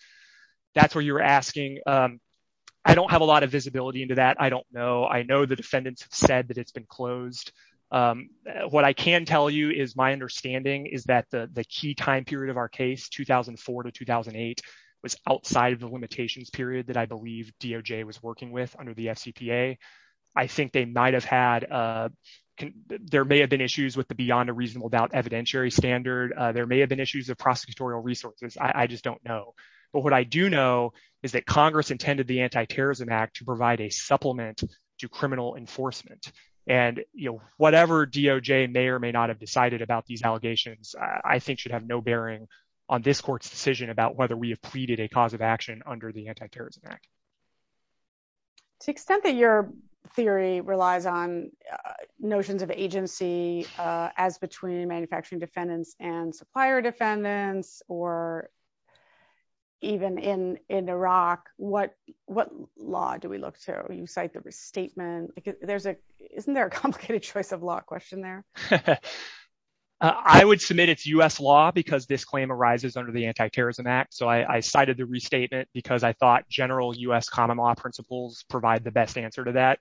that's what you're asking. I don't have a lot of visibility into that. I don't know. I know the defendants said that it's been closed. What I can tell you is my understanding is that the the key time period of our case, 2004 to 2008, was outside of the limitations period that I believe DOJ was working with under the FCPA. I think they might have had, there may have been issues with the beyond a reasonable doubt evidentiary standard. There may have been issues of prosecutorial resources. I just don't know. But what I do know is that Congress intended the Anti-Terrorism Act to provide a supplement to criminal enforcement. And, you know, whatever DOJ may or may not have decided about these allegations, I think should have no bearing on this court's decision about whether we have pleaded a cause of action under the Anti-Terrorism Act. To the extent that your theory relies on notions of agency as between manufacturing defendants and supplier defendants, or even in Iraq, what law do we look to? Do you cite the restatement? Isn't there a complicated choice of law question there? I would submit it's U.S. law because this claim arises under the Anti-Terrorism Act. So I cited the restatement because I thought general U.S. common law principles provide the best answer to that.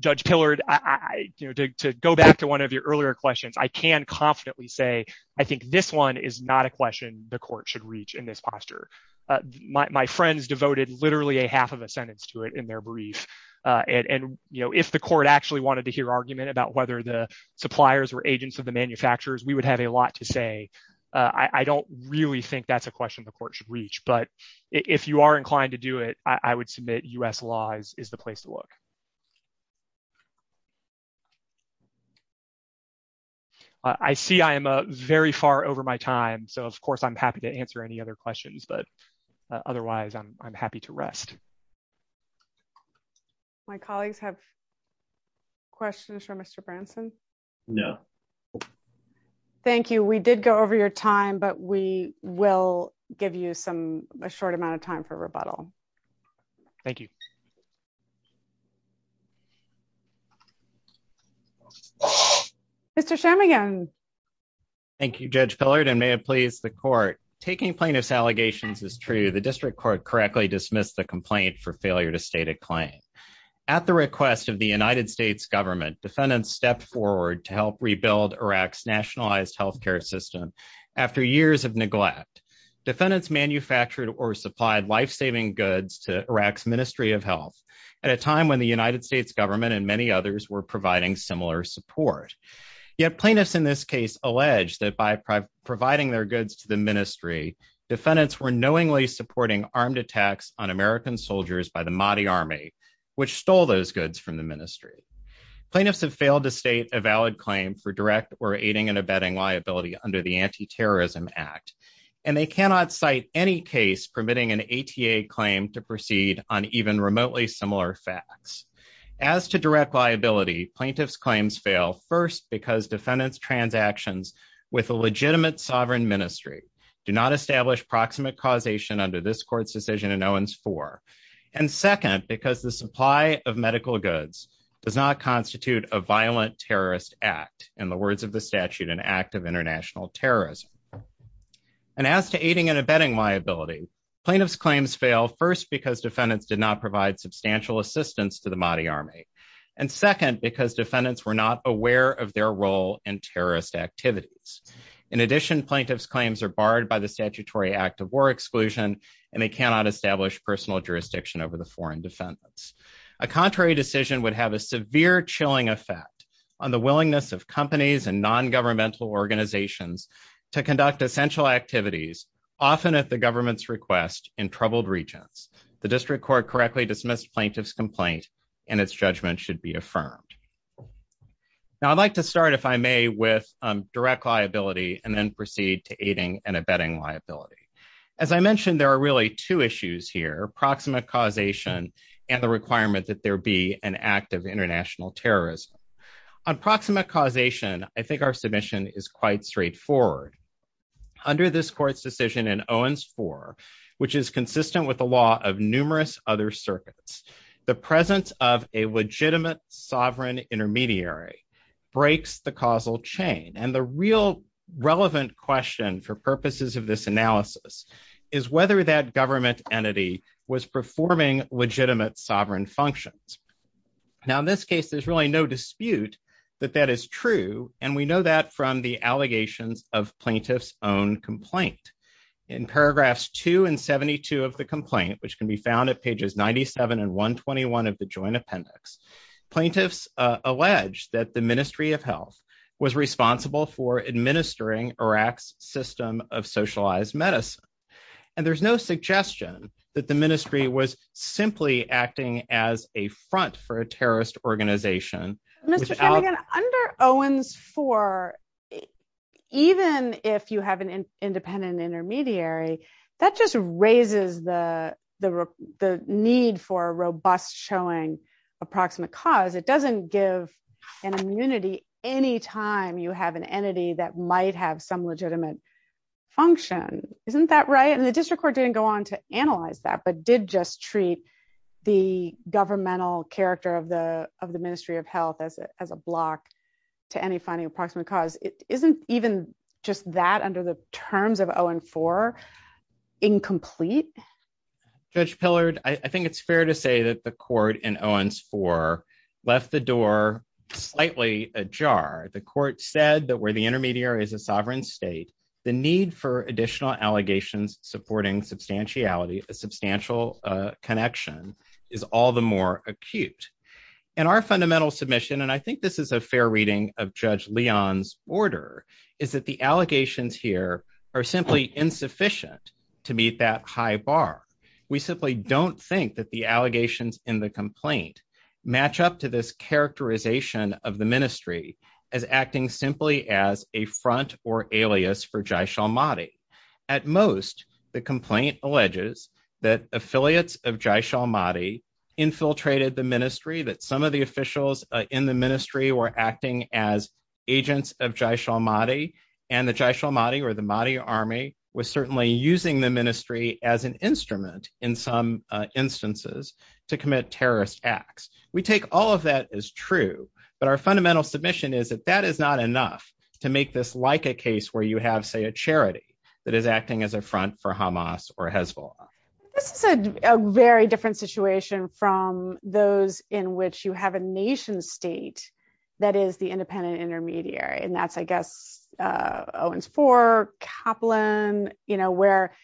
Judge Pillard, to go back to one of your earlier questions, I can confidently say I think this one is not a question the court should reach in this posture. My friends devoted literally a half of a sentence to it in their brief. And, you know, if the court actually wanted to hear argument about whether the suppliers were agents of the manufacturers, we would have a lot to say. I don't really think that's a question the court should reach. But if you are inclined to do it, I would submit U.S. law is the place to look. I see I am very far over my time. So, of course, I'm happy to answer any other questions. But otherwise, I'm happy to rest. My colleagues have questions for Mr. Branson? No. Thank you. We did go over your time, but we will give you some a short amount of time for rebuttal. Thank you. Thank you, Judge Pillard, and may it please the court. Taking plaintiff's allegations is true. The district court correctly dismissed the complaint for failure to state a claim. At the request of the United States government, defendants stepped forward to help rebuild Iraq's nationalized health care system after years of neglect. Defendants manufactured or supplied life-saving at a time when the United States government and many others were providing similar support. Yet plaintiffs in this case allege that by providing their goods to the ministry, defendants were knowingly supporting armed attacks on American soldiers by the Mahdi Army, which stole those goods from the ministry. Plaintiffs have failed to state a valid claim for direct or aiding and abetting liability under the Anti-Terrorism Act. And they cannot cite any case permitting an ATA claim to proceed on even remotely similar facts. As to direct liability, plaintiffs' claims fail first because defendants' transactions with a legitimate sovereign ministry do not establish proximate causation under this court's decision in Owens 4. And second, because the supply of medical goods does not constitute a violent terrorist act, in the words of the statute, an act of international terrorism. And as to aiding and abetting liability, plaintiffs' claims fail first because defendants did not provide substantial assistance to the Mahdi Army. And second, because defendants were not aware of their role in terrorist activities. In addition, plaintiffs' claims are barred by the Statutory Act of War Exclusion, and they cannot establish personal jurisdiction over the foreign defendants. A contrary decision would have a severe chilling effect on the willingness of companies and non-governmental organizations to conduct essential activities, often at the government's request, in troubled regions. The district court correctly dismissed plaintiffs' complaints, and its judgment should be affirmed. Now, I'd like to start, if I may, with direct liability, and then proceed to aiding and abetting liability. As I mentioned, there are really two issues here, proximate causation and the requirement that there be an act of international terrorism. On proximate causation, I think our submission is quite straightforward. Under this court's decision in Owens IV, which is consistent with the law of numerous other circuits, the presence of a legitimate sovereign intermediary breaks the causal chain. And the real relevant question for purposes of this analysis is whether that government entity was performing legitimate sovereign functions. Now, in this case, there's really no dispute that that is true, and we know that from the allegations of plaintiff's own complaint. In paragraphs 2 and 72 of the complaint, which can be found at pages 97 and 121 of the joint appendix, plaintiffs alleged that the Ministry of Health was responsible for administering Iraq's system of simply acting as a front for a terrorist organization. Under Owens IV, even if you have an independent intermediary, that just raises the need for a robust showing of proximate cause. It doesn't give an immunity any time you have an entity that might have some legitimate function. Isn't that right? And the district court didn't go on to analyze that, but did just treat the governmental character of the Ministry of Health as a block to any finding of proximate cause. Isn't even just that under the terms of Owens IV incomplete? Judge Pillard, I think it's fair to say that the court in Owens IV left the door slightly ajar. The court said that where the intermediary is a sovereign state, the need for additional allegations supporting substantiality, a substantial connection, is all the more acute. And our fundamental submission, and I think this is a fair reading of Judge Leon's order, is that the allegations here are simply insufficient to meet that high bar. We simply don't think that the allegations in the complaint match up to this characterization of the ministry as acting simply as a front or alias for Jaish-e-Mahdi. At most, the complaint alleges that affiliates of Jaish-e-Mahdi infiltrated the ministry, that some of the officials in the ministry were acting as agents of Jaish-e-Mahdi, and the Jaish-e-Mahdi, or the Mahdi army, was certainly using the ministry as an instrument in some instances to commit terrorist acts. We take all of that as true, but our fundamental submission is that that is not enough to make this like a case where you have, say, a charity that is acting as a front for Hamas or Hezbollah. This is a very different situation from those in which you have a nation-state that is the independent intermediary, and that's, I guess, Owens IV, Kaplan, you know, where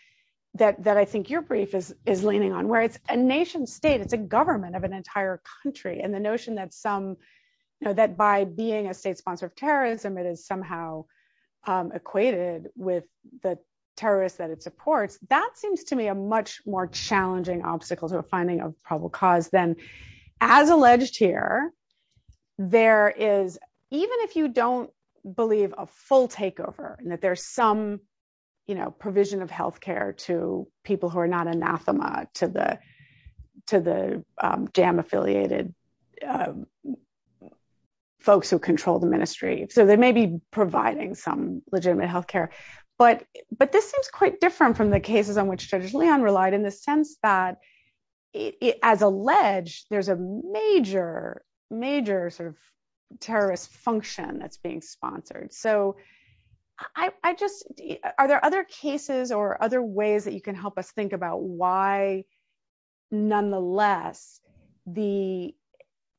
that I think your brief is leaning on, where it's a nation-state, it's a government of an entire country, and the notion that some, you know, that by being a state sponsor of terrorism, it is somehow equated with the terrorists that it supports, that seems to me a much more challenging obstacle to a finding of probable cause than, as alleged here, there is, even if you don't believe, a full takeover, and that there's some, you know, provision of health care to people who are not anathema to the to the jam-affiliated folks who control the ministry. So they may be providing some legitimate health care, but this is quite different from the cases on which Judge Leon relied in the sense that, as alleged, there's a major, major sort of terrorist function that's sponsored. So I just, are there other cases or other ways that you can help us think about why, nonetheless, the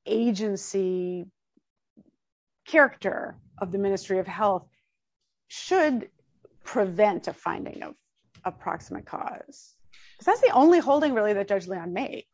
agency character of the Ministry of Health should prevent a finding of approximate cause? Is that the only holding, really, that Judge Leon made?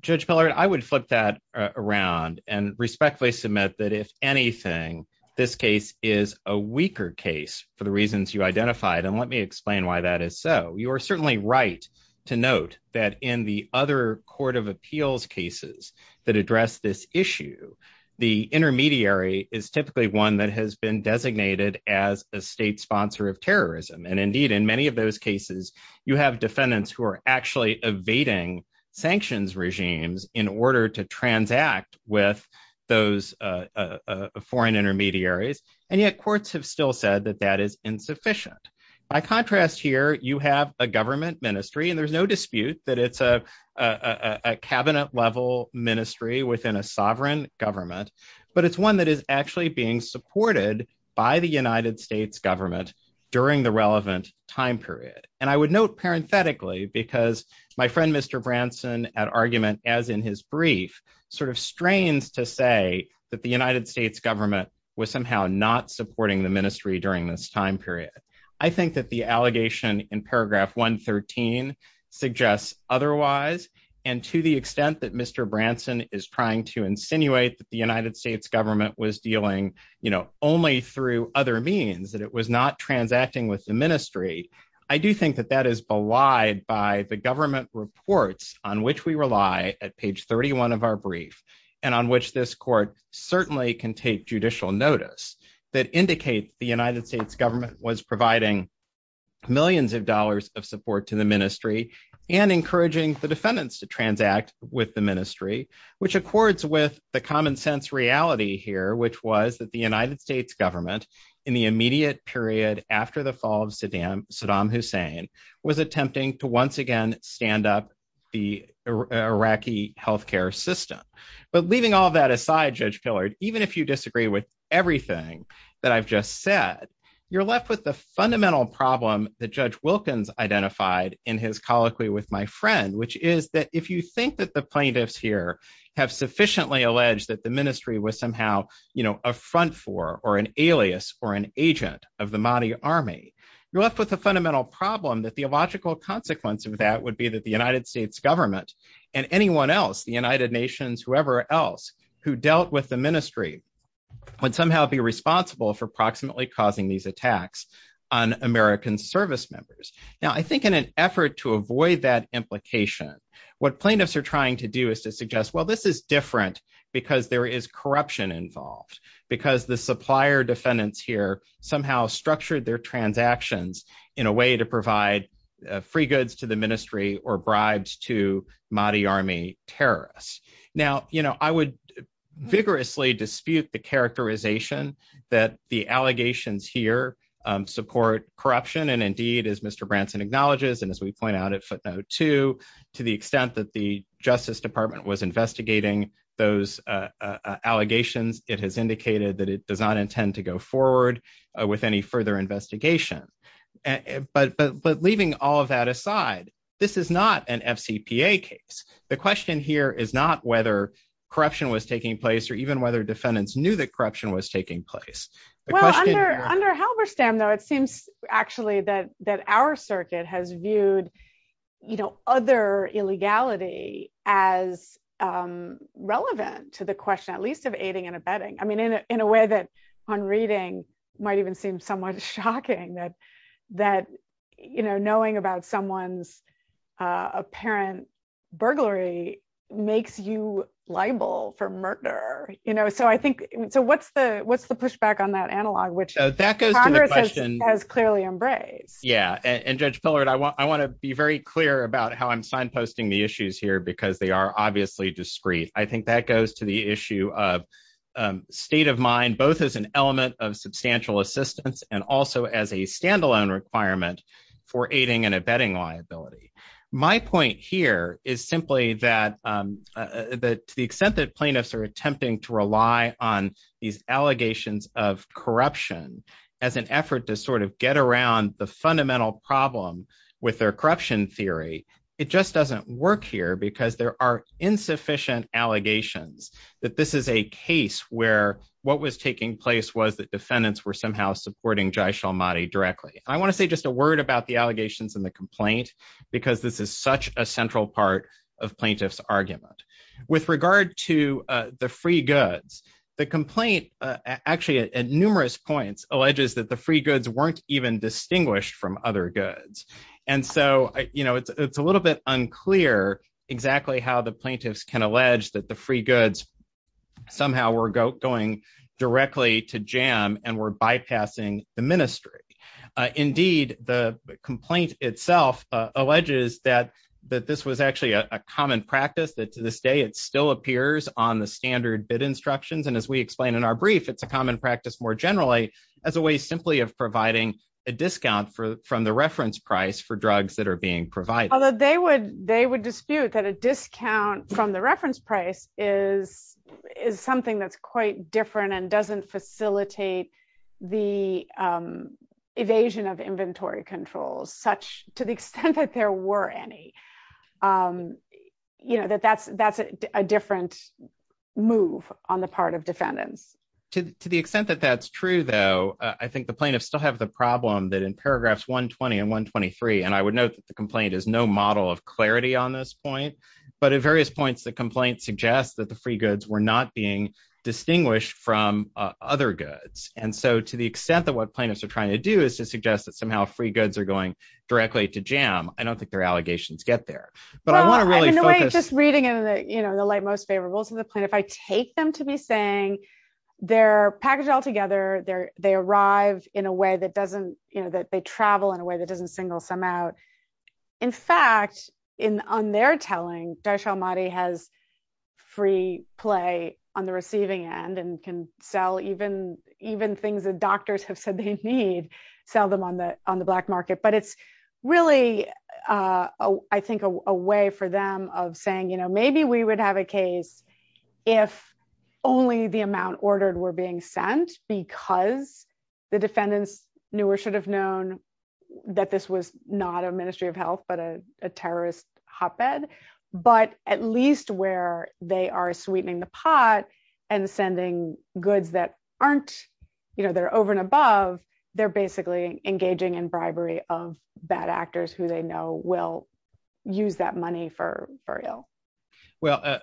Judge Pillard, I would flip that around and respectfully submit that, if anything, this case is a weaker case for the reasons you identified, and let me explain why that is so. You are certainly right to note that in the other court of appeals cases that address this issue, the intermediary is typically one that has been designated as a state sponsor of terrorism, and indeed, in many of those cases, you have defendants who are actually evading sanctions regimes in order to transact with those foreign intermediaries, and yet courts have still said that that is insufficient. By contrast here, you have a government ministry, and there's no dispute that it's a cabinet-level ministry within a sovereign government, but it's one that is actually being supported by the United States government during the relevant time period, and I would note parenthetically, because my friend, Mr. Branson, at argument, as in his brief, sort of strains to say that the United States government was somehow not supporting the ministry during this time period. I think that the allegation in paragraph 113 suggests otherwise, and to the extent that Mr. Branson is trying to insinuate that the United States government was dealing, you know, only through other means, that it was not transacting with the ministry, I do think that that is belied by the government reports on which we rely at page 31 of our brief, and on which this court certainly can take judicial notice, that indicate the United States government was providing millions of dollars of support to the ministry and encouraging the which was that the United States government in the immediate period after the fall of Saddam, Saddam Hussein, was attempting to once again stand up the Iraqi healthcare system, but leaving all that aside, Judge Pillard, even if you disagree with everything that I've just said, you're left with the fundamental problem that Judge Wilkins identified in his colloquy with my friend, which is that if you think that the plaintiffs here have sufficiently alleged that the ministry was somehow a front for, or an alias, or an agent of the Mahdi army, you're left with the fundamental problem that the illogical consequence of that would be that the United States government and anyone else, the United Nations, whoever else, who dealt with the ministry, would somehow be responsible for proximately causing these attacks on American service members. Now, I think in an effort to avoid that implication, what plaintiffs are trying to do is to suggest, well, this is because the supplier defendants here somehow structured their transactions in a way to provide free goods to the ministry or bribes to Mahdi army terrorists. Now, you know, I would vigorously dispute the characterization that the allegations here support corruption. And indeed, as Mr. Branson acknowledges, and as we point out at footnote two, to the extent that the Justice Department was investigating those allegations, it has indicated that it does not intend to go forward with any further investigation. But leaving all of that aside, this is not an FCPA case. The question here is not whether corruption was taking place, or even whether defendants knew that corruption was taking place. Well, under Halberstam, though, it seems actually that our circuit has viewed, you know, other illegality as relevant to the question, at least of aiding and abetting. I mean, in a way that on reading might even seem somewhat shocking that, you know, knowing about someone's apparent burglary makes you liable for murder. You know, Yeah, and Judge Pillard, I want to be very clear about how I'm signposting the issues here, because they are obviously discreet. I think that goes to the issue of state of mind, both as an element of substantial assistance, and also as a standalone requirement for aiding and abetting liability. My point here is simply that, that to the extent that plaintiffs are attempting to rely on these allegations of corruption, as an effort to sort of get around the fundamental problem with their corruption theory, it just doesn't work here because there are insufficient allegations that this is a case where what was taking place was that defendants were somehow supporting Jai Shalmati directly. I want to say just a word about the allegations and the complaint, because this is such a central part of plaintiffs argument. With regard to the free goods, the complaint, actually at numerous points, alleges that the free goods weren't even distinguished from other goods. And so, you know, it's a little bit unclear exactly how the plaintiffs can allege that the free goods somehow were going directly to Jam and were bypassing the ministry. Indeed, the complaint itself alleges that this was actually a common practice, that to this day, it still appears on the standard bid instructions. And as we explained in our brief, it's a common practice more generally as a way simply of providing a discount from the reference price for drugs that are being provided. Although they would dispute that a discount from the reference price is something that's quite different and doesn't facilitate the evasion of inventory controls, such to the extent that there were any, you know, that that's a different move on the part of defendants. To the extent that that's true, though, I think the plaintiffs still have the problem that in paragraphs 120 and 123, and I would note that the complaint is no model of clarity on this point, but at various points, the complaint suggests that the free goods were not being distinguished from other goods. And so to the extent that what plaintiffs are trying to do is to suggest that somehow free goods are going directly to Jam, I don't think their allegations get there. But I want to really focus... Well, in a way, just reading into the, you know, the light most favorable to the plaintiff, I take them to be saying they're packaged all together, they arrived in a way that doesn't, you know, that they travel in a way that doesn't single some out. In fact, on their telling, Darshan Mahdi has free play on the receiving end and can sell even things that doctors have said they need, sell them on the black market. But it's really, I think, a way for them of saying, you know, maybe we would have a case if only the amount ordered were being sent because the defendants knew or should have known that this was not a Ministry of Health, but a terrorist hotbed. But at least where they are sweetening the pot and sending goods that aren't, you know, they're over and above, they're basically engaging in bribery of bad actors who they know will use that money for burial. Well,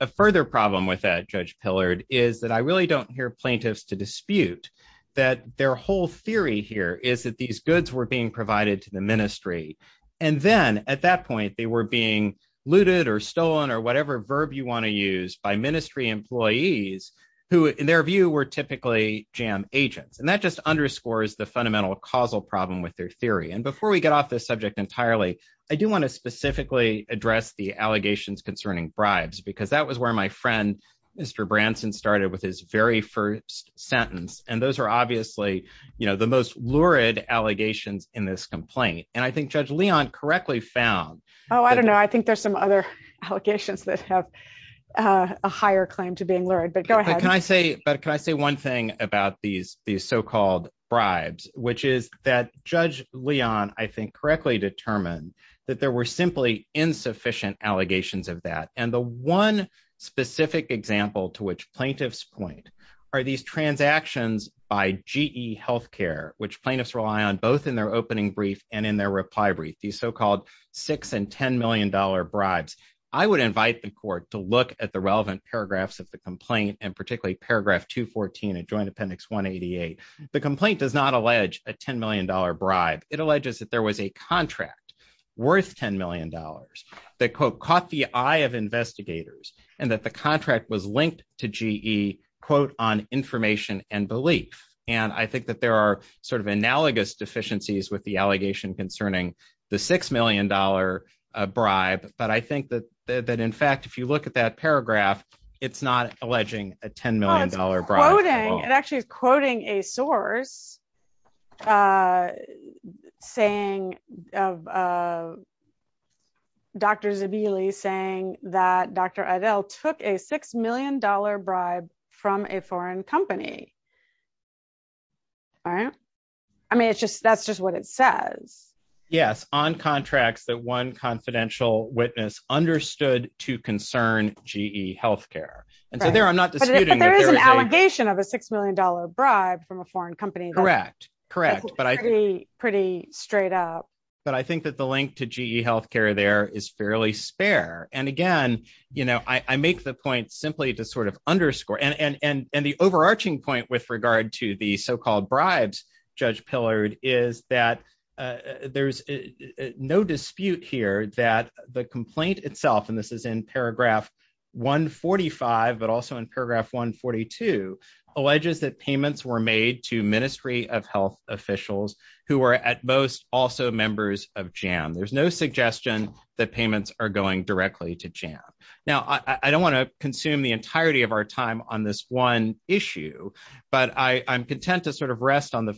a further problem with that, Judge Pillard, is that I really don't hear plaintiffs to dispute that their whole theory here is that these goods were being provided to the ministry. And then at that point, they were being looted or stolen or whatever verb you want to use by ministry employees who, in their view, were typically jam agents. And that just underscores the fundamental causal problem with their theory. And before we get off this subject entirely, I do want to specifically address the allegations concerning bribes, because that was where my friend, Mr. Branson, started with his very first sentence. And those are obviously, you know, the most lurid allegations in this complaint. And I think Judge Leon correctly found... Oh, I don't know. I think there's some other allegations that have a higher claim to being lurid. But go ahead. But can I say one thing about these so-called bribes, which is that Judge Leon, I think, correctly determined that there were simply insufficient allegations of that. And the one specific example to which plaintiffs point are these transactions by GE Healthcare, which plaintiffs rely on both in their opening brief and in their reply brief, these so-called $6 and $10 million bribes. I would invite the court to look at the relevant paragraphs of the complaint, and particularly paragraph 214 of Joint Appendix 188. The complaint does not allege a $10 million bribe. It alleges that there was a contract worth $10 million that, quote, caught the eye of investigators and that the contract was linked to GE, quote, on information and belief. And I think that there are sort of analogous deficiencies with the allegation concerning the $6 million bribe. But I think that in fact, if you look at that paragraph, it's not alleging a $10 million bribe. It's actually quoting a source saying, Dr. Zabili saying that Dr. Adel took a $6 million bribe from a foreign company. All right. I mean, it's just, that's just what it says. Yes. On contracts that one confidential witness understood to concern GE Healthcare. And so there, I'm not disputing- But there is an allegation of a $6 million bribe from a foreign company. Correct. Correct. But I think- Pretty straight up. But I think that the link to GE Healthcare there is fairly spare. And again, I make the point simply to sort of underscore, and the overarching point with regard to the so-called bribes, Judge Pillard, is that there's no dispute here that the complaint itself, and this is in paragraph 145, but also in paragraph 142, alleges that payments were made to Ministry of Health officials who are at most also members of JAM. There's no suggestion that payments are going directly to JAM. Now, I don't want to consume the entirety of our time on this one issue, but I'm content to sort of rest on the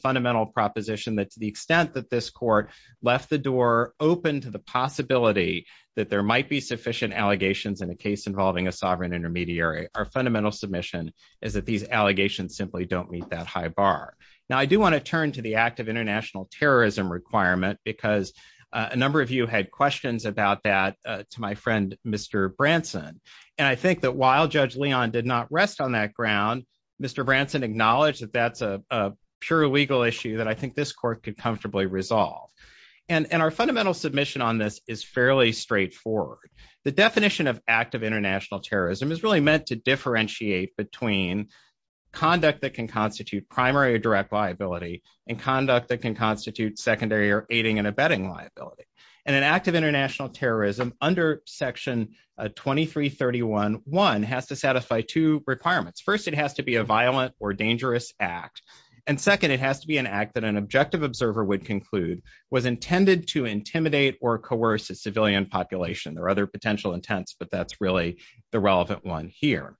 possibility that there might be sufficient allegations in a case involving a sovereign intermediary. Our fundamental submission is that these allegations simply don't meet that high bar. Now, I do want to turn to the act of international terrorism requirement because a number of you had questions about that to my friend, Mr. Branson. And I think that while Judge Leon did not rest on that ground, Mr. Branson acknowledged that that's a pure legal issue that I think this court could comfortably resolve. And our fundamental submission on this is fairly straightforward. The definition of act of international terrorism is really meant to differentiate between conduct that can constitute primary or direct liability and conduct that can constitute secondary or aiding and abetting liability. And an act of international terrorism under section 2331.1 has to satisfy two requirements. First, it has to be a violent or dangerous act. And second, it has to be an act that an objective observer would conclude was intended to intimidate or coerce a civilian population. There are other potential intents, but that's really the relevant one here.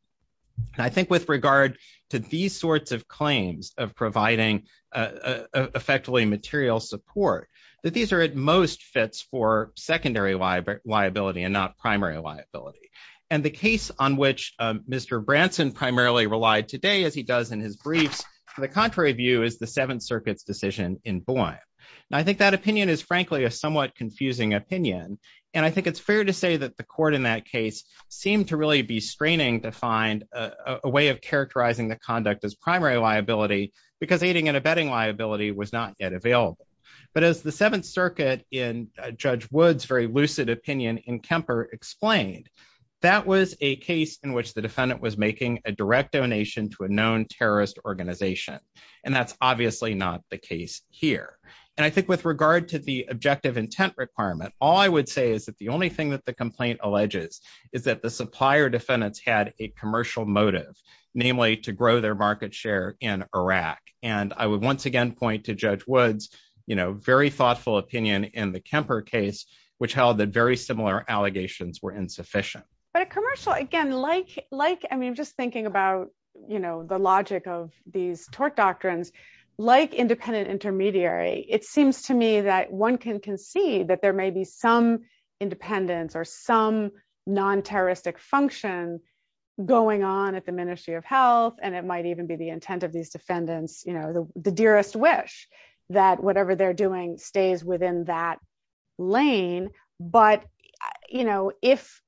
And I think with regard to these sorts of claims of providing effectively material support, that these are at most fits for secondary liability and not primary liability. And the case on which Mr. Branson primarily relied today, as he does in his brief, from the contrary view is the Seventh Circuit's decision in Boyle. And I think that opinion is frankly a somewhat confusing opinion. And I think it's fair to say that the court in that case seemed to really be straining to find a way of characterizing the conduct as primary liability because aiding and abetting liability was not yet available. But as the Seventh Circuit in Judge Wood's very lucid opinion in Kemper explained, that was a case in which the defendant was making a direct donation to a known terrorist organization. And that's obviously not the case here. And I think with regard to the objective intent requirement, all I would say is that the only thing that the complaint alleges is that the supplier defendants had a commercial motive, namely to grow their market share in Iraq. And I would once again point to Judge Wood's very thoughtful opinion in the Kemper case, which held that very similar allegations were insufficient. But a commercial, again, like, I mean, just thinking about, you know, the logic of these tort doctrines, like independent intermediary, it seems to me that one can concede that there may be some independence or some non-terroristic functions going on at the Ministry of Health. And it might even be the intent of these defendants, you know, the dearest wish that whatever they're doing stays within that lane. But you know, if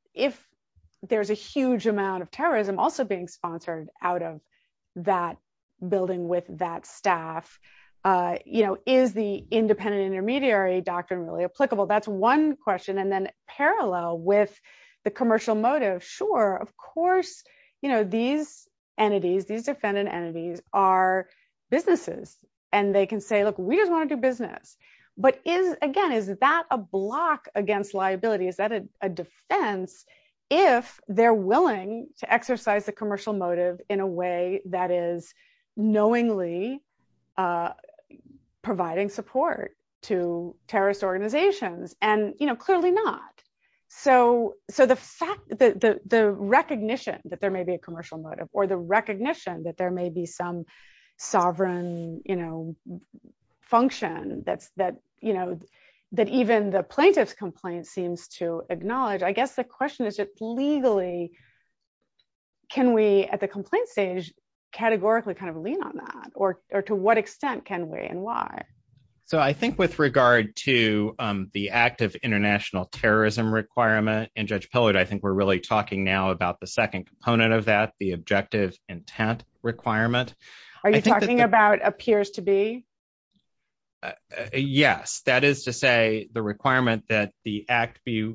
there's a huge amount of terrorism also being sponsored out of that building with that staff, you know, is the independent intermediary doctrine really applicable? That's one question. And then parallel with the commercial motive, sure, of course, you know, these entities, these defendant entities are businesses, and they can say, look, we just want to do business. But again, is that a block against liability? Is that a defense, if they're willing to exercise the commercial motive in a way that is knowingly providing support to terrorist organizations? And, you know, clearly not. So the recognition that there may be a that, you know, that even the plaintiff's complaint seems to acknowledge, I guess the question is just legally, can we at the complaint stage, categorically kind of lean on that? Or to what extent can we and why? So I think with regard to the active international terrorism requirement, and Judge Pillard, I think we're really talking now about the second component of that the objective intent requirement. Are you talking about appears to be? Yes, that is to say the requirement that the act be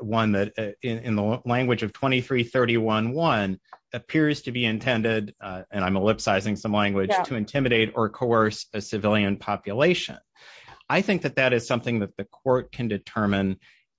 one that in the language of 2331.1 appears to be intended, and I'm ellipsizing some language to intimidate or coerce a civilian population. I think that that is something that the court can determine,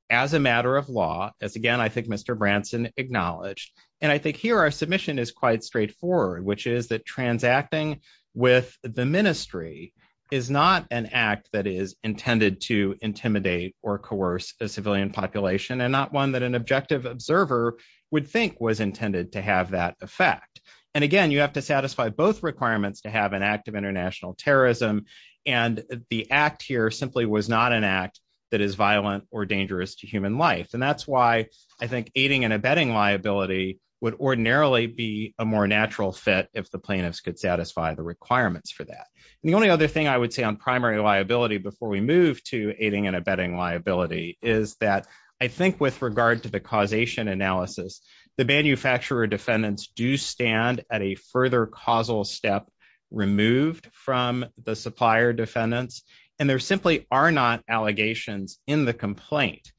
as a matter of law, as again, I think Mr. Branson acknowledged. And I think here, our submission is quite straightforward, which is that transacting with the ministry is not an act that is intended to intimidate or coerce the civilian population, and not one that an objective observer would think was intended to have that effect. And again, you have to satisfy both requirements to have an active international terrorism. And the act here simply was not an act that is violent or dangerous to human life. And that's why I think aiding and abetting liability would ordinarily be a more natural fit if the plaintiffs could satisfy the requirements for that. The only other thing I would say on primary liability before we move to aiding and abetting liability is that I think with regard to the causation analysis, the manufacturer defendants do stand at a further causal step removed from the supplier defendants. And there simply are not allegations in the complaint,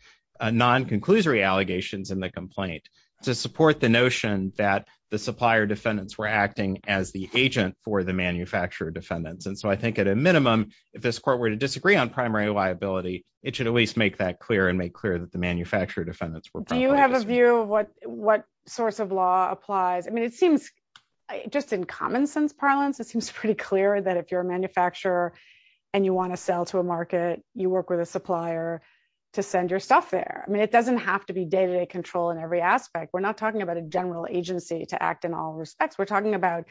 non-conclusory allegations in the complaint to support the notion that the supplier defendants were acting as the agent for the manufacturer defendants. And so I think at a minimum, if this court were to disagree on primary liability, it should at least make that clear and make clear that the manufacturer defendants were- Do you have a view of what source of law applies? I mean, it seems just in common sense parlance, it seems pretty clear that if you're a manufacturer and you want to sell to a market, you work with a supplier to send your stuff there. I mean, it doesn't have to be day-to-day control in every aspect. We're not talking about a general agency to act in all respects. We're talking about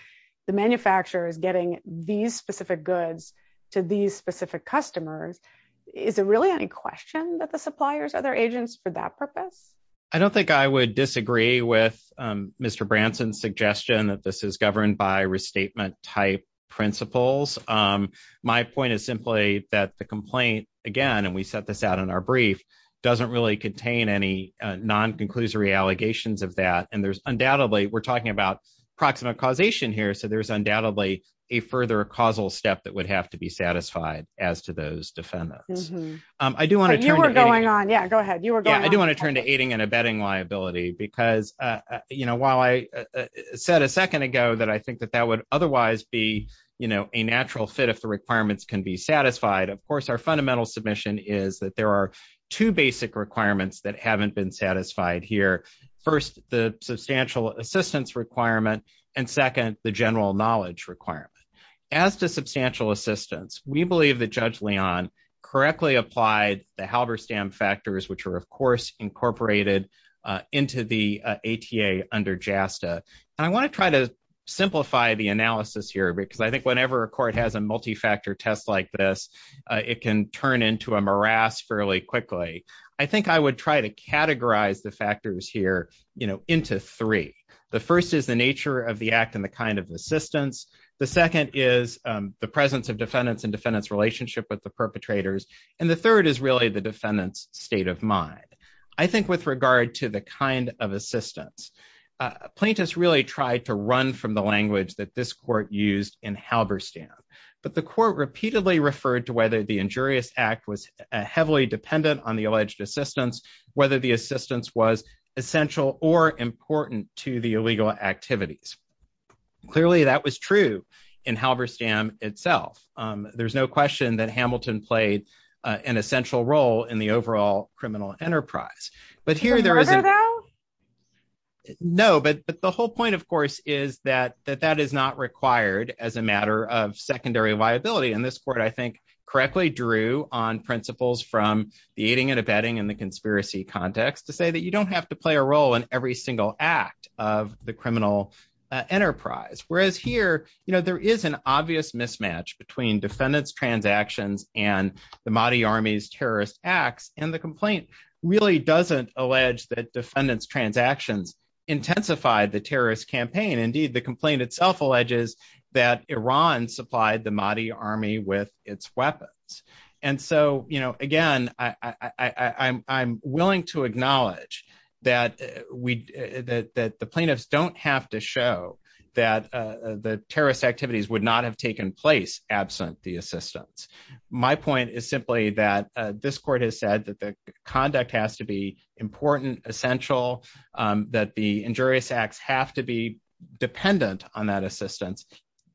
the manufacturer getting these specific goods to these specific customers. Is there really any question that the suppliers are their agents for that purpose? I don't think I would disagree with Mr. Branson's suggestion that this is governed by restatement type principles. My point is simply that the complaint, again, and we set this out in our brief, doesn't really contain any non-conclusory allegations of that. And there's about proximate causation here. So there's undoubtedly a further causal step that would have to be satisfied as to those defendants. I do want to turn- You were going on. Yeah, go ahead. You were going on. I do want to turn to aiding and abetting liability because while I said a second ago that I think that that would otherwise be a natural fit if the requirements can be satisfied. Of course, our fundamental submission is that there are two basic requirements that haven't been satisfied here. First, the substantial assistance requirement. And second, the general knowledge requirement. As to substantial assistance, we believe that Judge Leon correctly applied the Halberstam factors, which were of course incorporated into the ATA under JASTA. I want to try to simplify the analysis here because I think whenever a court has a multi-factor test like this, it can turn into a morass fairly quickly. I think I would try to categorize the factors here into three. The first is the nature of the act and the kind of assistance. The second is the presence of defendants and defendants' relationship with the perpetrators. And the third is really the defendant's state of mind. I think with regard to the kind of assistance, plaintiffs really try to run from the language that this court used in Halberstam. But the court repeatedly referred to whether the injurious act was heavily dependent on the alleged assistance, whether the assistance was essential or important to the illegal activities. Clearly, that was true in Halberstam itself. There's no question that Hamilton played an essential role in the overall criminal enterprise. But here, there is no, but the whole point, of course, is that that is not required as a matter of secondary viability. And this court, I think, correctly drew on principles from the aiding and abetting and the conspiracy context to say that you don't have to play a role in every single act of the criminal enterprise. Whereas here, you know, there is an obvious mismatch between defendants' transactions and the Mahdi Army's terrorist acts. And the complaint really doesn't allege that defendants' transactions intensified the terrorist campaign. Indeed, the complaint itself alleges that Iran supplied the Mahdi Army with its weapons. And so, you know, again, I'm willing to acknowledge that the plaintiffs don't have to show that the terrorist activities would not have taken place absent the assistance. My point is simply that this court has said that the conduct has to be important, essential, that the injurious acts have to be dependent on that assistance,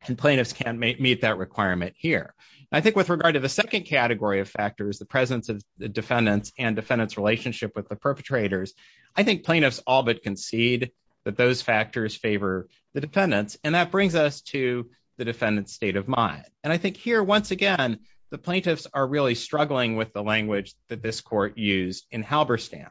and plaintiffs can't meet that requirement here. I think with regard to the second category of factors, the presence of defendants and defendants' relationship with the perpetrators, I think plaintiffs all but concede that those factors favor the defendants. And that brings us to the defendant's state of mind. And I think here, once again, the plaintiffs are really struggling with the language that this court used in Halberstam.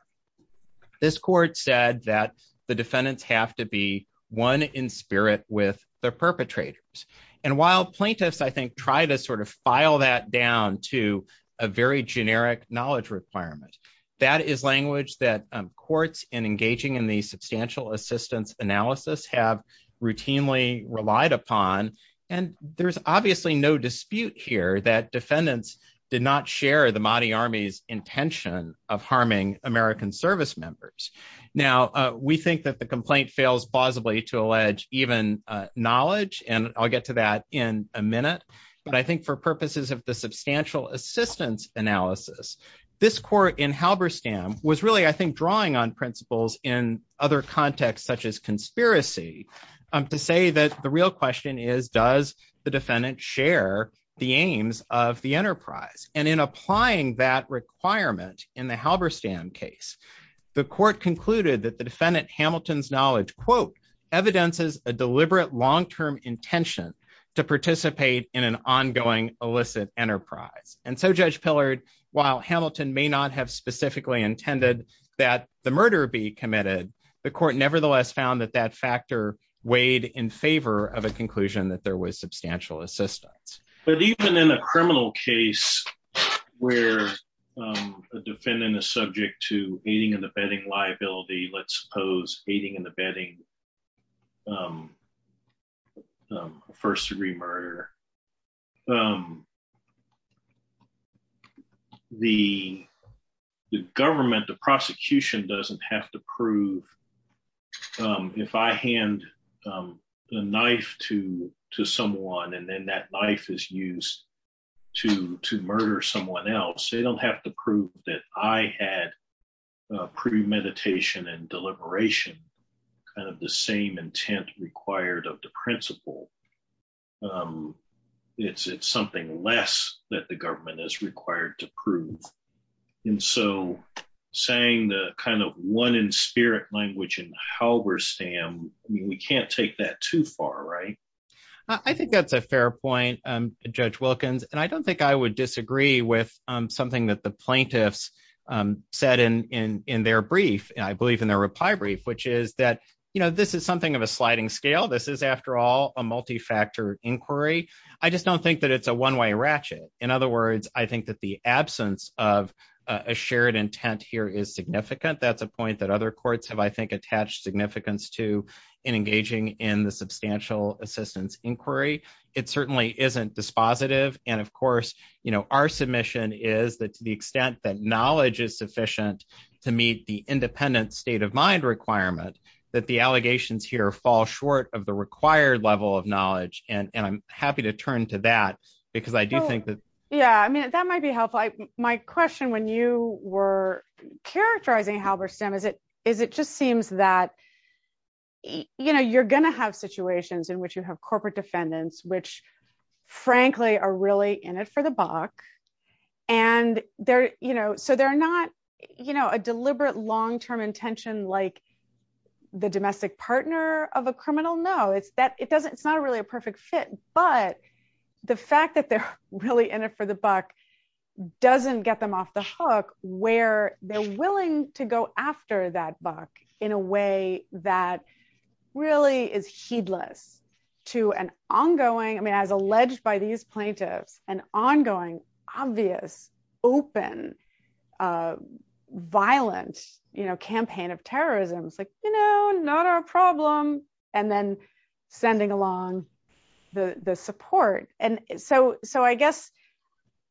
This court said that the defendants have to be one in spirit with the perpetrators. And while plaintiffs, I think, try to sort of file that down to a very generic knowledge requirement, that is language that courts in engaging in the substantial assistance analysis have routinely relied upon. And there's obviously no dispute here that defendants did not share the Mahdi Army's intention of harming American service members. Now, we think that the complaint fails plausibly to allege even knowledge, and I'll get to that in a minute. But I think for purposes of the substantial assistance analysis, this court in Halberstam was really, I think, drawing on principles in other contexts such as conspiracy to say that the real question is, does the defendant share the aims of the enterprise? And in applying that requirement in the Halberstam case, the court concluded that the defendant Hamilton's knowledge, quote, evidences a deliberate long-term intention to participate in an ongoing illicit enterprise. And so Judge Pillard, while Hamilton may not have specifically intended that the murder be committed, the court nevertheless found that that factor weighed in favor of a conclusion that there was substantial assistance. But even in a criminal case where a defendant is subject to aiding and abetting liability, let's suppose aiding and abetting first-degree murder, the government, the prosecution doesn't have to prove if I hand a knife to someone and then that deliberation, the same intent required of the principle. It's something less that the government is required to prove. And so saying the kind of one in spirit language in Halberstam, I mean, we can't take that too far, right? I think that's a fair point, Judge Wilkins. And I don't think I would disagree with something that the plaintiffs said in their brief, and I believe in their reply brief, which is that this is something of a sliding scale. This is, after all, a multi-factor inquiry. I just don't think that it's a one-way ratchet. In other words, I think that the absence of a shared intent here is significant. That's a point that other courts have, I think, attached significance to in engaging in the substantial assistance inquiry. It certainly isn't dispositive. And of course, our submission is that to the extent that knowledge is sufficient to meet the independent state of mind requirement, that the allegations here fall short of the required level of knowledge. And I'm happy to turn to that because I do think that- Yeah. I mean, that might be helpful. My question when you were characterizing Halberstam is it just seems that you're going to have situations in which you have corporate defendants, which frankly are really in it for the buck. So they're not a deliberate long-term intention like the domestic partner of a criminal. No, it's not really a perfect fit. But the fact that they're really in it for the buck doesn't get them off the hook where they're willing to go after that buck in a way that really is heedless to an ongoing, I mean, as alleged by these plaintiffs, an ongoing, obvious, open, violent campaign of terrorism. It's like, you know, not our problem. And then sending along the support. And so I guess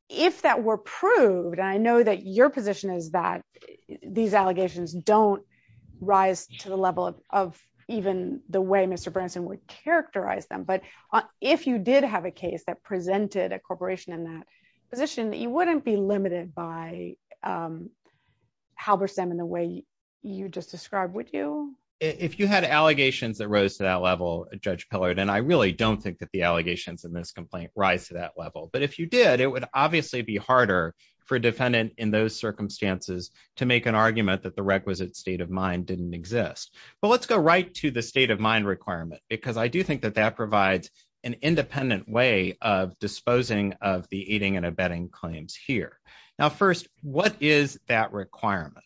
if that were proved, and I know that your position is that these allegations don't rise to the level of even the way Mr. Branson would characterize them. But if you did have a case that presented a corporation in that position, you wouldn't be limited by Halberstam in the way you just described, would you? If you had allegations that rose to that level, Judge Pillard, and I really don't think that the allegations in this complaint rise to that level. But if you did, it would obviously be for defendant in those circumstances to make an argument that the requisite state of mind didn't exist. But let's go right to the state of mind requirement, because I do think that that provides an independent way of disposing of the aiding and abetting claims here. Now, first, what is that requirement?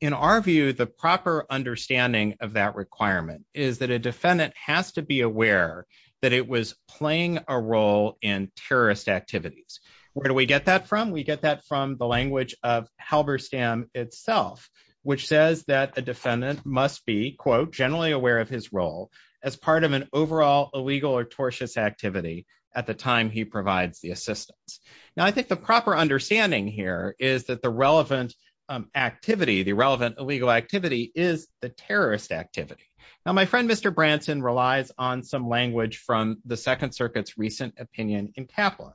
In our view, the proper understanding of that requirement is that a defendant has to be aware that it was playing a role in terrorist activities. Where we get that from? We get that from the language of Halberstam itself, which says that a defendant must be, quote, generally aware of his role as part of an overall illegal or tortious activity at the time he provides the assistance. Now, I think the proper understanding here is that the relevant activity, the relevant illegal activity is the terrorist activity. Now, my friend, Mr. Branson, relies on some language from the Second Circuit's recent opinion in Kaplan,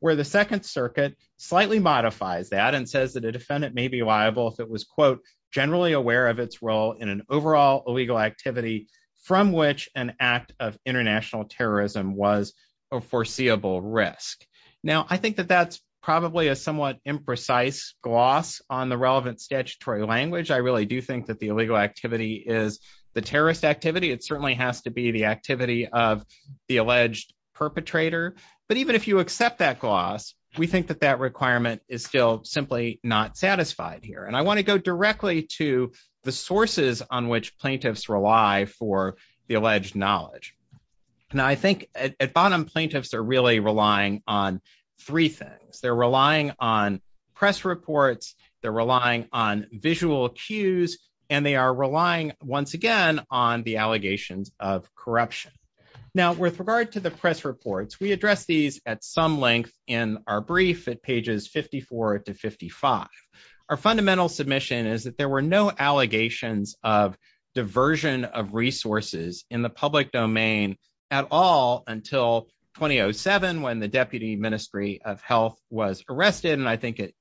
where the Second Circuit slightly modifies that and says that the defendant may be liable if it was, quote, generally aware of its role in an overall illegal activity from which an act of international terrorism was a foreseeable risk. Now, I think that that's probably a somewhat imprecise gloss on the relevant statutory language. I really do think that the illegal activity is the terrorist activity. It certainly has to be the activity of the alleged perpetrator. But even if you accept that gloss, we think that that requirement is still simply not satisfied here. And I want to go directly to the sources on which plaintiffs rely for the alleged knowledge. Now, I think at bottom, plaintiffs are really relying on three things. They're relying on press reports, they're relying on visual cues, and they are relying, once again, on the allegations of corruption. Now, with regard to the press reports, we address these at some length in our brief at pages 54 to 55. Our fundamental submission is that there were no allegations of diversion of resources in the public domain at all until 2007, when the Deputy Ministry of Health was arrested. And I think the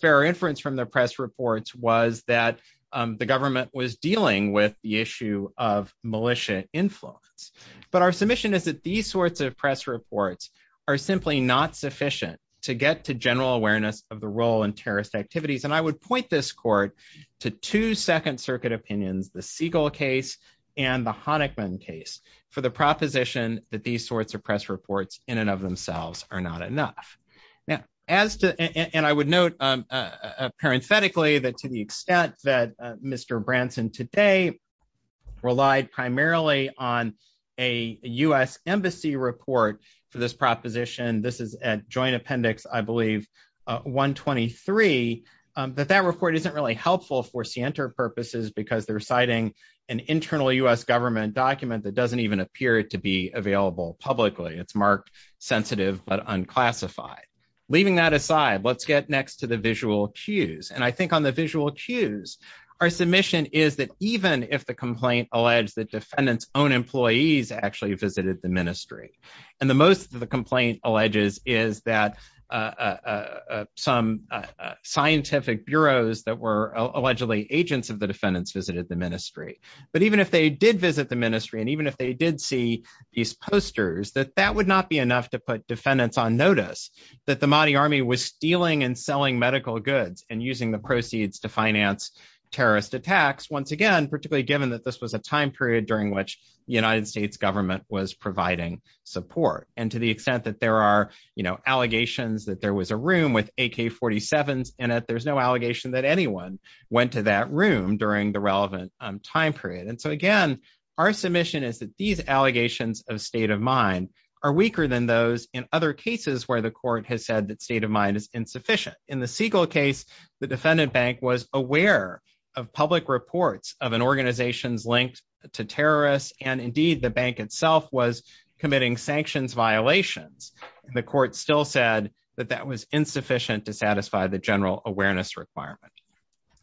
fair inference from the press reports was that the government was dealing with the issue of militia influence. But our submission is that these sorts of press reports are simply not sufficient to get to general awareness of the role in terrorist activities. And I would point this court to two Second Circuit opinions, the Siegel case and the Honickman case, for the proposition that these sorts of press reports in and of themselves are not enough. Now, and I would note parenthetically that to the extent that Mr. Branson today relied primarily on a U.S. embassy report to this proposition, this is at joint appendix, I believe, 123, that that report isn't really helpful for scienter purposes, because they're citing an internal U.S. government document that doesn't even appear to be available publicly. It's marked sensitive, but unclassified. Leaving that aside, let's get next to the visual cues. And I think on the visual cues, our submission is that even if the complaint alleged that defendants' own employees actually visited the ministry, and the most of the complaint alleges is that some scientific bureaus that were allegedly agents of the defendants visited the ministry, but even if they did visit the ministry, and even if they did see these posters, that that would not be enough to put defendants on notice that the Mahdi Army was stealing and selling medical goods and using the proceeds to finance terrorist attacks, once again, particularly given that this was a time period during which the United States government was providing support. And to the extent that there are, you know, allegations that there was a room with AK-47s in it, there's no room during the relevant time period. And so again, our submission is that these allegations of state of mind are weaker than those in other cases where the court has said that state of mind is insufficient. In the Siegel case, the defendant bank was aware of public reports of an organization linked to terrorists, and indeed, the bank itself was committing sanctions violations. The court still said that that was insufficient to satisfy the general awareness requirement.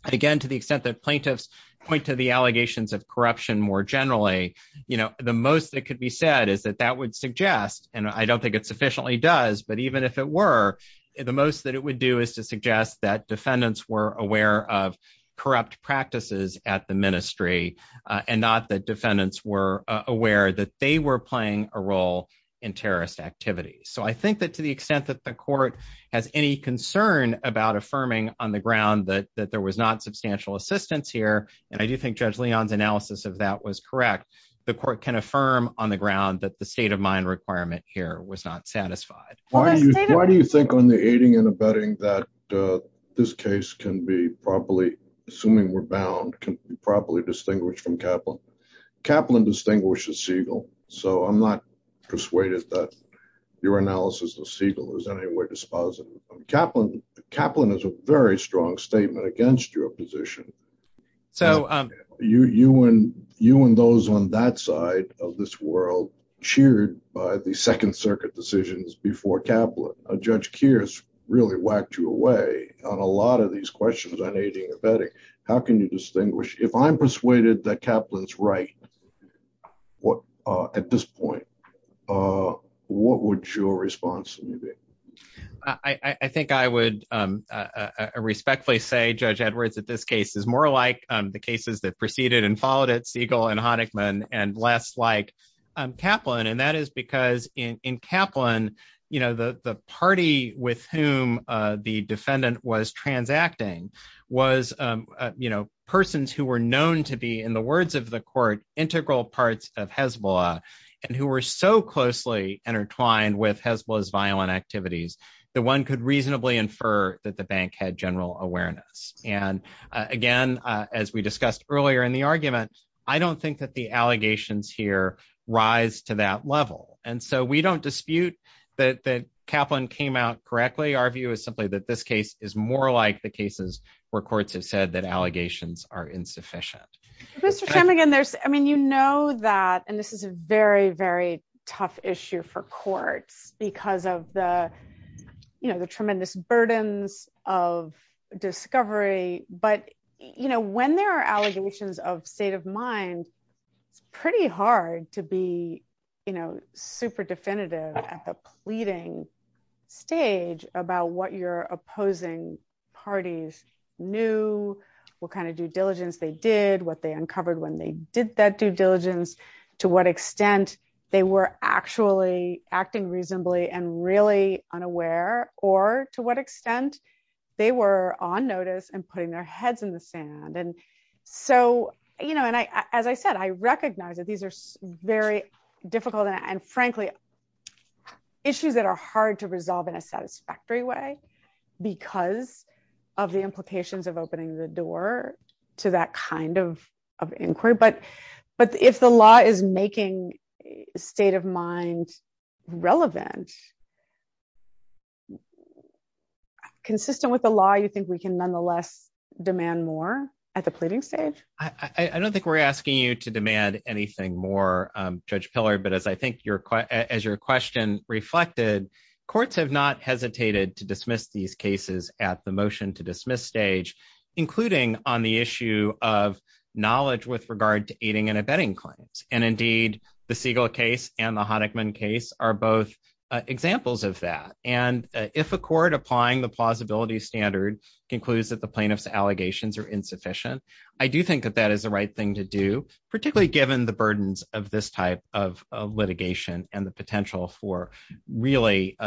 Again, to the extent that plaintiffs point to the allegations of corruption more generally, you know, the most that could be said is that that would suggest, and I don't think it sufficiently does, but even if it were, the most that it would do is to suggest that defendants were aware of corrupt practices at the ministry, and not that defendants were aware that they were playing a role in terrorist activities. So I think that to the extent that the court has any concern about affirming on the ground that there was not substantial assistance here, and I do think Judge Leon's analysis of that was correct, the court can affirm on the ground that the state of mind requirement here was not satisfied. Why do you think on the aiding and abetting that this case can be properly, assuming we're bound, can be properly distinguished from Kaplan? Kaplan distinguishes Siegel, so I'm not persuaded that your analysis of Siegel is in any way dispositive. Kaplan is a very strong statement against your position. You and those on that side of this world cheered by the Second Circuit decisions before Kaplan. Judge Kears really whacked you away on a lot of these questions on aiding and abetting. How can you distinguish? If I'm persuaded that Kaplan's right at this point, what would your response to me be? I think I would respectfully say, Judge Edwards, that this case is more like the cases that preceded and followed it, Siegel and Honickman, and less like Kaplan, and that is because in Kaplan, you know, the party with whom the defendant was transacting was, you know, persons who were known to be, in the words of the court, integral parts of Hezbollah, and who were so closely intertwined with Hezbollah's violent activities that one could reasonably infer that the bank had general awareness. And again, as we discussed earlier in the argument, I don't think that the allegations here rise to that level. And so we don't dispute that Kaplan came out correctly. Our view is simply that this case is more like the cases where courts have said that allegations are insufficient. Mr. Shemigan, I mean, you know that, and this is a very, very tough issue for courts, because of the, you know, the tremendous burden of discovery. But, you know, when there are allegations of state of mind, pretty hard to be, you know, super definitive at the pleading stage about what your opposing parties knew, what kind of due diligence they did, what they uncovered when they did that due diligence, to what extent they were actually acting reasonably and really unaware, or to what extent they were on notice and putting their heads in the sand. And so, you know, and I, as I said, I recognize that these are very difficult and, frankly, issues that are hard to resolve in a satisfactory way, because of the implications of opening the door to that kind of inquiry. But if the law is making state of mind relevant, consistent with the law, you think we can nonetheless demand more at the pleading stage? I don't think we're asking you to demand anything more, Judge Pillard, but as I think your question reflected, courts have not hesitated to dismiss these cases at the motion to dismiss stage, including on the issue of knowledge with regard to aiding and abetting claims. And indeed, the Siegel case and the Honickman case are both examples of that. And if a court applying the plausibility standard concludes that the plaintiff's allegations are insufficient, I do think that that is the right thing to do, particularly given the burdens of this type of litigation and the potential for really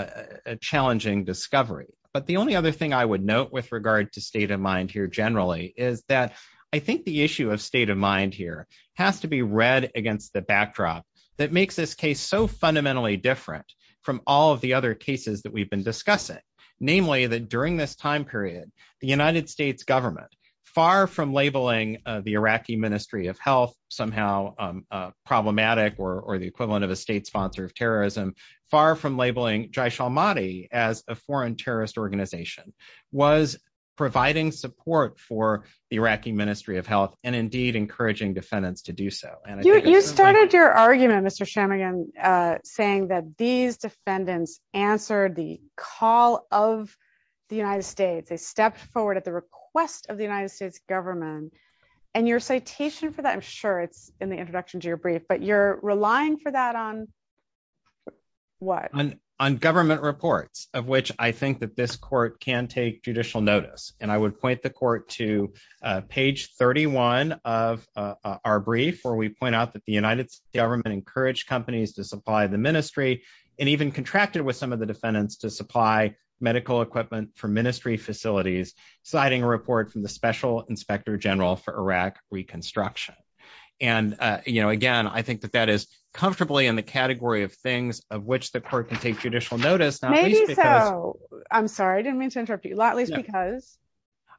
challenging discovery. But the only other thing I would note with regard to state of mind here generally is that I think the issue of state of mind here has to be read against the backdrop that makes this case so fundamentally different from all of the other cases that we've been discussing. Namely, that during this time period, the United States government, far from labeling the Iraqi Ministry of Health somehow problematic or the equivalent of a state sponsor of terrorism, far from labeling Jaysh al-Mahdi as a foreign terrorist organization, was providing support for the Iraqi Ministry of Health and indeed encouraging defendants to do so. You started your argument, Mr. Shanmugam, saying that these defendants answered the call of the United States. They stepped forward at the request of the United States government. And your citation for that, I'm sure it's in the introduction to your brief, but you're relying for that on what? On government reports, of which I think that this court can take judicial notice. And I would point the court to page 31 of our brief, where we point out that the United States government encouraged companies to supply the ministry and even contracted with some of the defendants to supply medical equipment for ministry facilities, citing a report from the Special Inspector General for Iraq Reconstruction. And again, I think that that is comfortably in the category of things of which the court can take judicial notice. Maybe so. I'm sorry, I didn't mean to interrupt you. Not least because...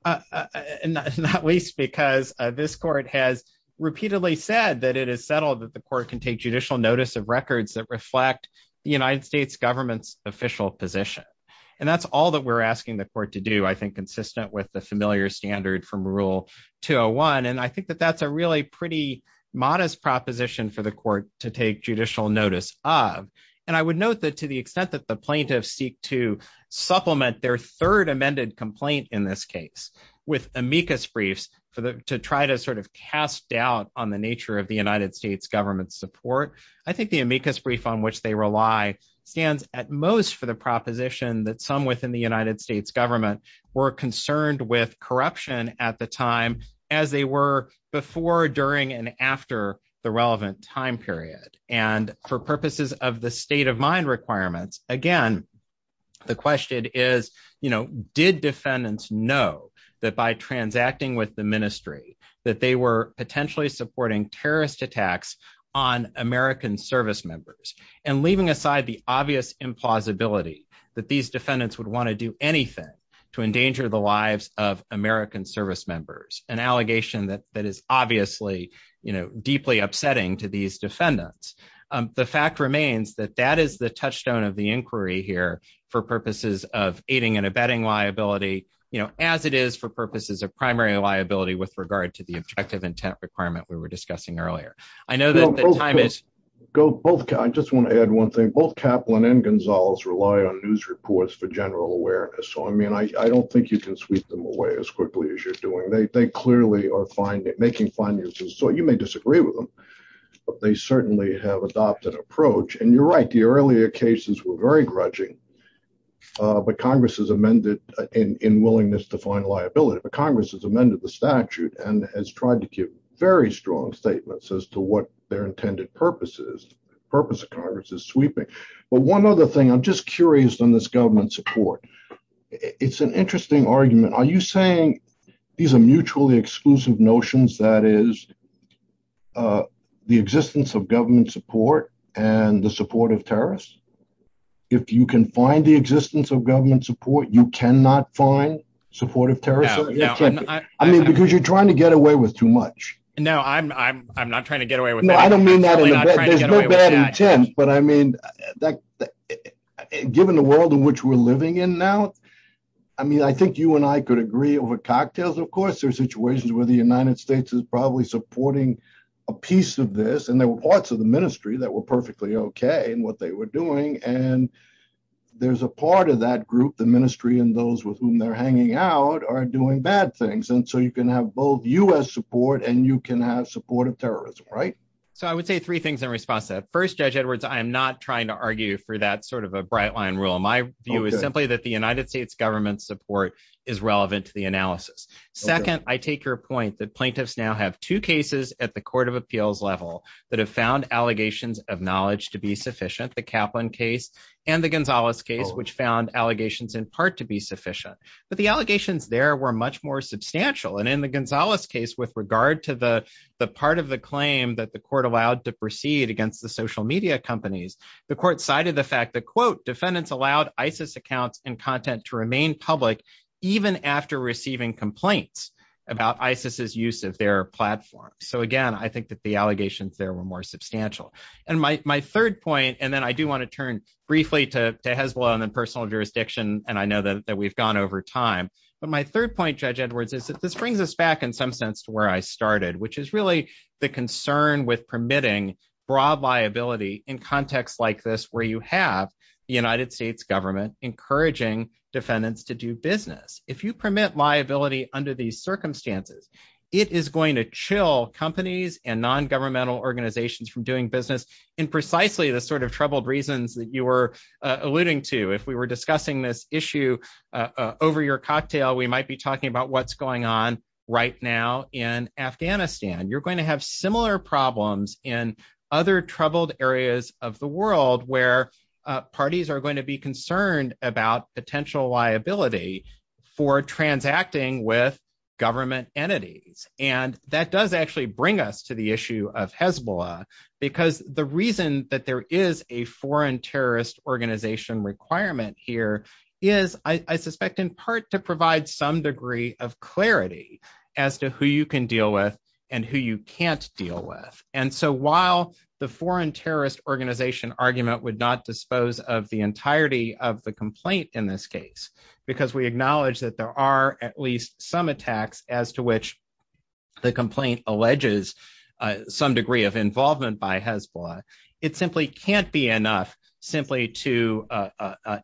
Not least because this court has repeatedly said that it is settled that the court can take judicial notice of records that reflect the United States government's official position. And that's all that we're asking the court to do, I think, consistent with the familiar standard from Rule 201. And I think that that's a really pretty modest proposition for the court to take judicial notice of. And I would note that to the extent that the plaintiffs seek to supplement their third amended complaint in this case with amicus briefs to try to sort of cast doubt on the nature of the United States government's support, I think the amicus brief on which they rely stands at most for the proposition that some within the United States government were concerned with corruption at the time as they were before, during, and after the relevant time period. And for purposes of the state of mind requirements, again, the question is, did defendants know that by transacting with the ministry that they were potentially supporting terrorist attacks on American service members? And leaving aside the obvious implausibility that these defendants would want to do anything to endanger the lives of American service members, an allegation that is obviously deeply upsetting to these defendants. The fact remains that that is the touchstone of the inquiry here for purposes of aiding and abetting liability, as it is for purposes of primary liability with regard to the objective intent requirement we were discussing earlier. I know that the time is- I just want to add one thing. Both Kaplan and Gonzalez rely on news reports for general awareness. So, I mean, I don't think you can sweep them away as quickly as you're doing. They clearly are making fine uses. So, you may disagree with them, but they certainly have adopted an approach. And you're right, the earlier cases were very grudging, but Congress has amended in willingness to find liability, but Congress has amended the statute and has tried to give very strong statements as to what their intended purpose is, purpose of Congress is sweeping. But one other thing, I'm just curious on this government support. It's an interesting argument. Are you saying these are mutually exclusive notions, that is, the existence of government support and the support of terrorists? If you can find the existence of government support, you cannot find support of terrorists? I mean, because you're trying to get away with too much. No, I'm not trying to get away with- I don't mean that in a bad, there's no bad intent, but I mean, given the world in which we're living in now, I mean, I think you and I could agree over cocktails, of course, there's situations where the United States is probably supporting a piece of this. And there were parts of the ministry that were perfectly okay in what they were doing. And there's a part of that group, the ministry and those with whom they're hanging out are doing bad things. And so you can have both U.S. support and you can have support of terrorism, right? So I would say three things in response to that. First, Judge Edwards, I am not trying to argue for that sort of a bright line rule. My view is simply that the United States government support is relevant to the analysis. Second, I take your point that plaintiffs now have two cases at the court of appeals level that have found allegations of knowledge to be sufficient, the Kaplan case and the Gonzalez case, which found allegations in part to be sufficient. But the allegations there were much more substantial. And in the Gonzalez case, with regard to the part of the claim that the court allowed to proceed against the social media companies, the court cited the fact that, quote, defendants allowed ISIS accounts and content to remain public even after receiving complaints about ISIS's use of their platform. So again, I think that the allegations there were more substantial. And my third point, and then I do turn briefly to Hezbollah and personal jurisdiction, and I know that we've gone over time. But my third point, Judge Edwards, is that this brings us back in some sense to where I started, which is really the concern with permitting broad liability in contexts like this, where you have the United States government encouraging defendants to do business. If you permit liability under these circumstances, it is going to chill companies and non-governmental organizations from doing business in precisely the sort of troubled reasons that you were alluding to. If we were discussing this issue over your cocktail, we might be talking about what's going on right now in Afghanistan. You're going to have similar problems in other troubled areas of the world where parties are going to be concerned about potential liability for transacting with government entities. And that does actually bring us to the issue of Hezbollah, because the reason that there is a foreign terrorist organization requirement here is, I suspect, in part to provide some degree of clarity as to who you can deal with and who you can't deal with. And so while the foreign terrorist organization argument would not dispose of the at least some attacks as to which the complaint alleges some degree of involvement by Hezbollah, it simply can't be enough simply to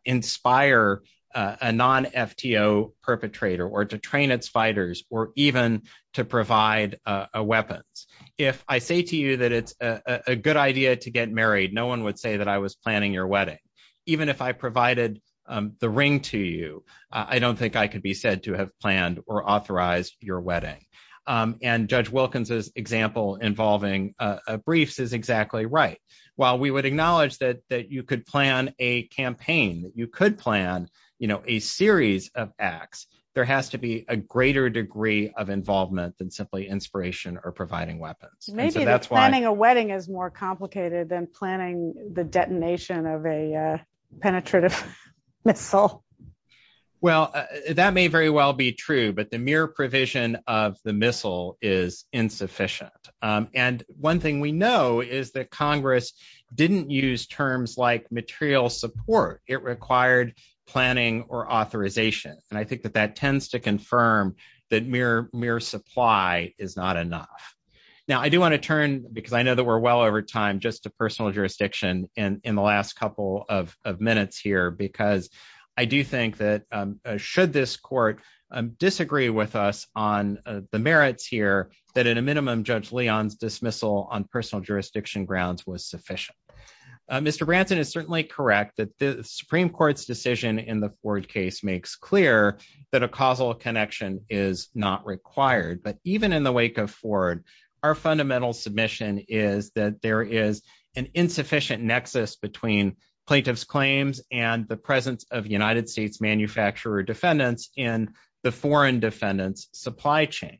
inspire a non-FTO perpetrator or to train its fighters or even to provide a weapon. If I say to you that it's a good idea to get married, no one would say that I was planning your wedding. Even if I provided the ring to you, I don't think I could be said to have planned or authorized your wedding. And Judge Wilkins' example involving a brief is exactly right. While we would acknowledge that you could plan a campaign, you could plan a series of acts, there has to be a greater degree of involvement than simply inspiration or providing weapons. Maybe planning a wedding is more complicated than planning the detonation of a penetrative missile. Well, that may very well be true, but the mere provision of the missile is insufficient. And one thing we know is that Congress didn't use terms like material support. It required planning or authorization. And I think that that tends to confirm that mere supply is not enough. Now, I do want to turn, because I know we're well over time, just to personal jurisdiction in the last couple of minutes here, because I do think that should this court disagree with us on the merits here, that at a minimum, Judge Leon's dismissal on personal jurisdiction grounds was sufficient. Mr. Branton is certainly correct that the Supreme Court's decision in the Ford case makes clear that a causal connection is not required. But even in the wake of Ford, our fundamental submission is that there is an insufficient nexus between plaintiff's claims and the presence of United States manufacturer defendants in the foreign defendants' supply chain.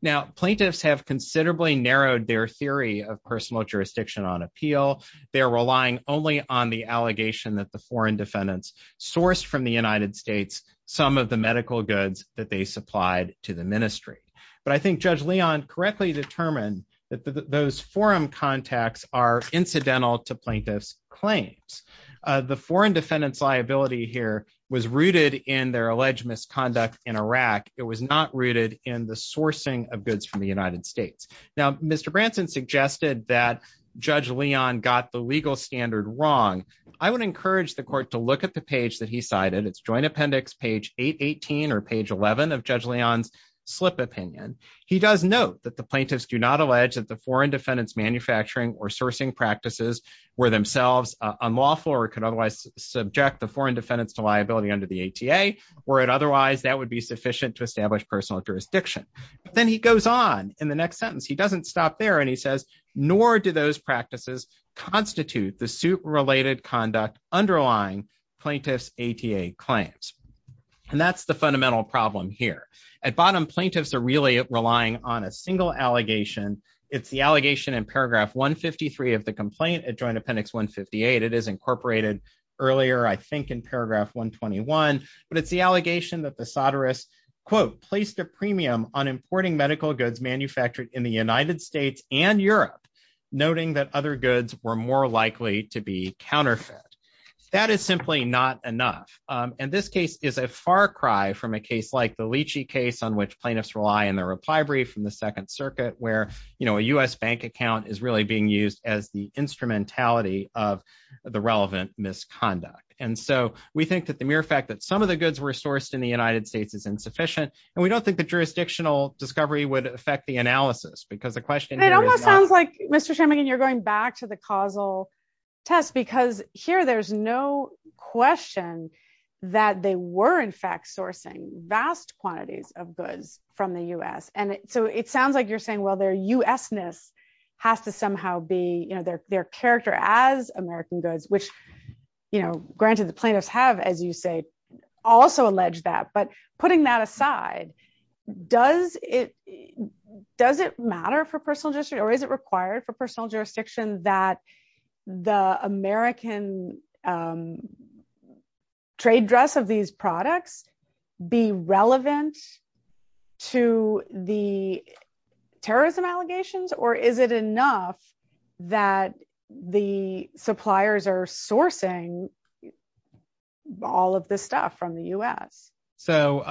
Now, plaintiffs have considerably narrowed their theory of personal jurisdiction on appeal. They're relying only on the allegation that the foreign defendants sourced from the United States some of the medical goods that they supplied to the ministry. But I think Judge Leon correctly determined that those forum contacts are incidental to plaintiffs' claims. The foreign defendants' liability here was rooted in their alleged misconduct in Iraq. It was not rooted in the sourcing of goods from the United States. Now, Mr. Branton suggested that Judge Leon got the legal standard wrong. I would encourage the court to look at the page that he cited. It's Joint Appendix, page 818, or page 11 of Judge Leon's slip opinion. He does note that the plaintiffs do not allege that the foreign defendants' manufacturing or sourcing practices were themselves unlawful or could otherwise subject the foreign defendants to liability under the ATA, or that otherwise that would be sufficient to establish personal jurisdiction. But then he goes on in the next sentence. He doesn't stop there, and he says, nor do those practices constitute the suit-related conduct underlying plaintiffs' ATA claims. And that's the fundamental problem here. At bottom, plaintiffs are really relying on a single allegation. It's the allegation in paragraph 153 of the complaint at Joint Appendix 158. It is incorporated earlier, I think, in paragraph 121. But it's the allegation that the soderists, quote, placed a premium on importing medical goods manufactured in the United States and Europe, noting that other goods were more likely to be counterfeits. That is simply not enough. And this case is a far cry from a case like the Leachy case, on which plaintiffs rely in their reply brief from the Second Circuit, where, you know, a U.S. bank account is really being used as the instrumentality of the relevant misconduct. And so we think that the mere fact that some of the goods were sourced in the United States is insufficient, and we don't think the jurisdictional discovery would affect the analysis, because the question It almost sounds like, Mr. Shemmigan, you're going back to the causal test, because here, there's no question that they were, in fact, sourcing vast quantities of goods from the U.S. And so it sounds like you're saying, well, their U.S.ness has to somehow be, you know, their character as American goods, which, you know, granted, the plaintiffs have, as you say, also allege that. But putting that aside, does it matter for personal jurisdiction, or is it required for personal jurisdiction that the American trade dress of these products be relevant to the terrorism allegations? Or is it enough that the suppliers are sourcing all of this stuff from the U.S.? So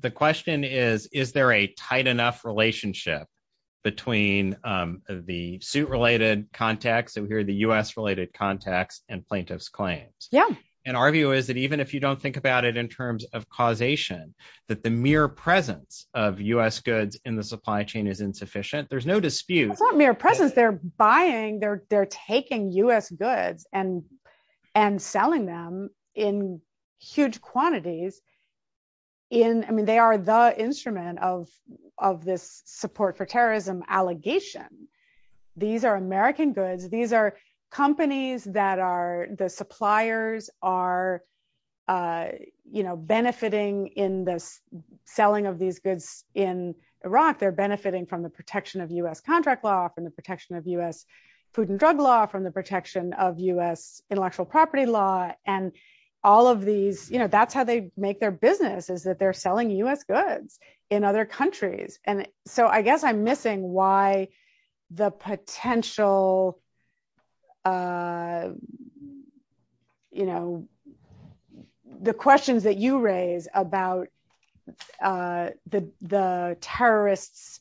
the question is, is there a tight enough relationship between the suit-related context, and here the U.S.-related context, and plaintiffs' claims? Yeah. And our view is that even if you don't think about it in terms of causation, that the mere presence of U.S. goods in the supply chain is insufficient, there's no dispute. It's not mere presence. They're buying, they're taking U.S. goods and selling them in huge quantities. I mean, they are the instrument of this support for terrorism allegation. These are American goods. These are companies that are, the suppliers are, you know, benefiting in the selling of these goods in Iraq. They're benefiting from the protection of U.S. contract law, from the protection of U.S. food and drug law, from the protection of U.S. intellectual property law. And all of these, you know, that's how they make their business, is that they're selling U.S. goods in other countries. And so I guess I'm missing why the potential, you know, the questions that you raise about the terrorists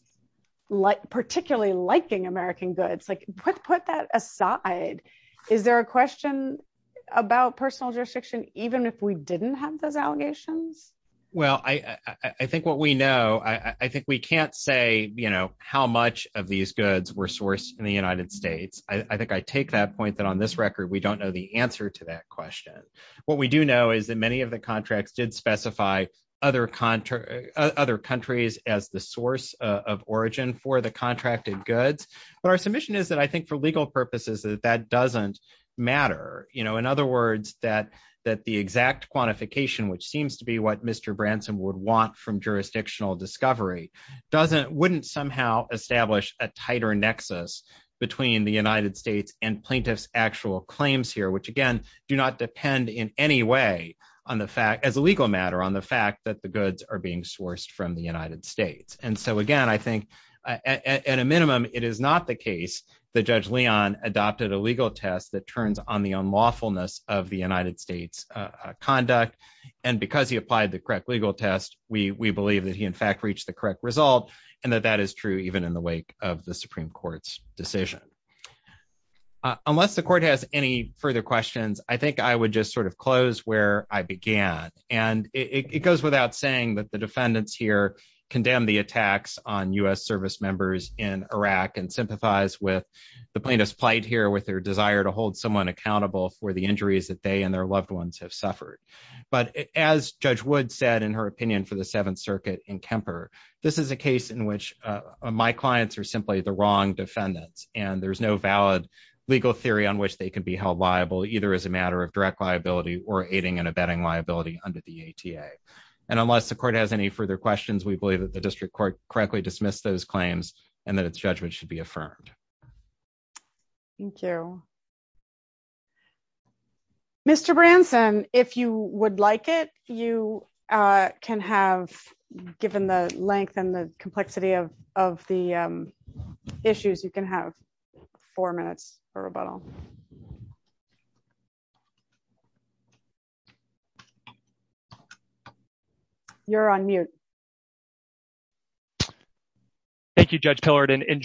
particularly liking American goods, like, put that aside. Is there a question about personal jurisdiction, even if we didn't have those allegations? Well, I think what we know, I think we can't say, you know, how much of these goods were that on this record, we don't know the answer to that question. What we do know is that many of the contracts did specify other countries as the source of origin for the contracted goods. But our submission is that I think for legal purposes, that that doesn't matter. You know, in other words, that the exact quantification, which seems to be what Mr. Branson would want from jurisdictional discovery, wouldn't somehow establish a tighter nexus between the United States and plaintiff's actual claims here, which again, do not depend in any way on the fact, as a legal matter, on the fact that the goods are being sourced from the United States. And so again, I think at a minimum, it is not the case that Judge Leon adopted a legal test that turns on the unlawfulness of the United States conduct. And because he applied the correct legal test, we believe that he in fact reached the correct result, and that that is true even in the wake of the Supreme Court's decision. Unless the court has any further questions, I think I would just sort of close where I began. And it goes without saying that the defendants here condemn the attacks on U.S. service members in Iraq and sympathize with the plaintiff's plight here with their desire to hold someone accountable for the injuries that they and their loved ones have suffered. But as Judge Wood said in her opinion for the Seventh Circuit in Kemper, this is a case in which my clients are simply the wrong defendants, and there's no valid legal theory on which they can be held liable, either as a matter of direct liability or aiding and abetting liability under the ATA. And unless the court has any further questions, we believe that the district court correctly dismissed those claims and that its judgment should be affirmed. Thank you. Mr. Branson, if you would like it, you can have, given the length and the complexity of the issues, you can have four minutes for rebuttal. You're on mute. Thank you, Judge Pillard. And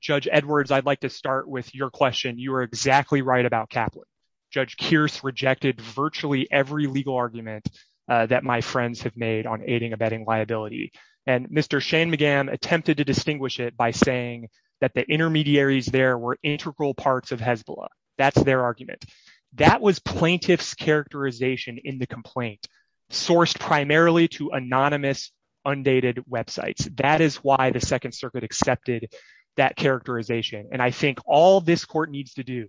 Judge Edwards, I'd like to start with your question. You are exactly right about Kaplan. Judge Kearse rejected virtually every legal argument that my friends have made on aiding and abetting liability. And Mr. Shane McGann attempted to distinguish it by saying that the intermediaries there were integral parts of HESBLA. That's their argument. That was plaintiff's characterization in the complaint, sourced primarily to anonymous, undated websites. That is why the Second Circuit accepted that characterization. And I think all this court needs to do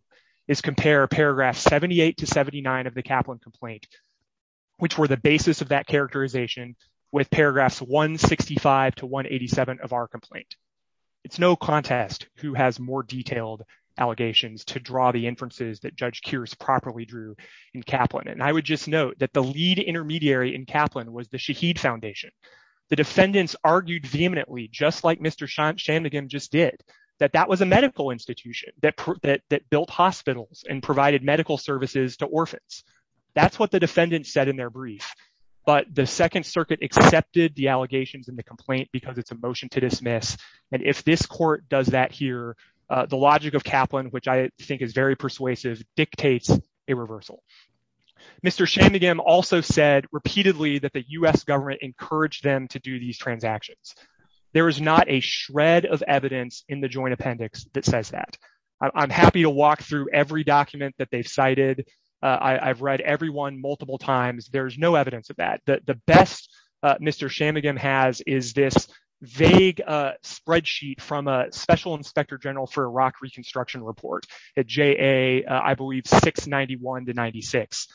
is compare paragraph 78 to 79 of the Kaplan complaint, which were the basis of that with paragraphs 165 to 187 of our complaint. It's no contest who has more detailed allegations to draw the inferences that Judge Kearse properly drew in Kaplan. And I would just note that the lead intermediary in Kaplan was the Shaheed Foundation. The defendants argued vehemently, just like Mr. Shane McGann just did, that that was a medical institution that built hospitals and provided medical services to orphans. That's what the defendants said in their brief. But the Second Circuit accepted the allegations in the complaint because it's a motion to dismiss. And if this court does that here, the logic of Kaplan, which I think is very persuasive, dictates a reversal. Mr. Shane McGann also said repeatedly that the U.S. government encouraged them to do these transactions. There is not a shred of evidence in the joint appendix that says that. I'm happy to walk through every document that they've cited. I've read every multiple times. There's no evidence of that. But the best Mr. Shane McGann has is this vague spreadsheet from a Special Inspector General for Iraq Reconstruction Report at JA, I believe, 691 to 96.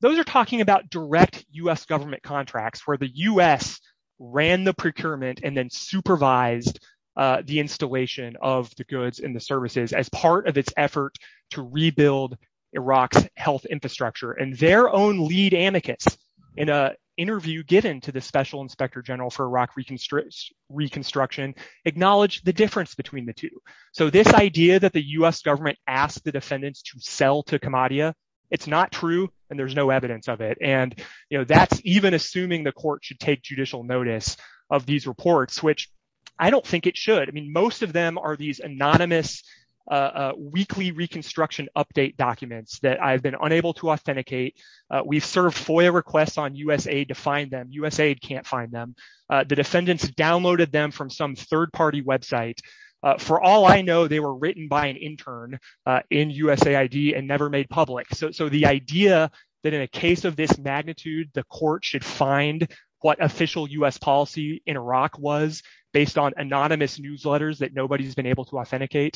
Those are talking about direct U.S. government contracts where the U.S. ran the procurement and then supervised the installation of the goods and the services as part of its effort to rebuild Iraq's health infrastructure. And their own lead advocates, in an interview given to the Special Inspector General for Iraq Reconstruction, acknowledged the difference between the two. So this idea that the U.S. government asked the defendants to sell to Kamadia, it's not true, and there's no evidence of it. And that's even assuming the court should take judicial notice of these reports, which I don't think it should. I mean, most of them are these anonymous weekly reconstruction update documents that I've been unable to authenticate. We've served FOIA requests on USAID to find them. USAID can't find them. The defendants downloaded them from some third-party website. For all I know, they were written by an intern in USAID and never made public. So the idea that in a case of this magnitude, the court should find what official U.S. policy in Iraq was based on anonymous newsletters that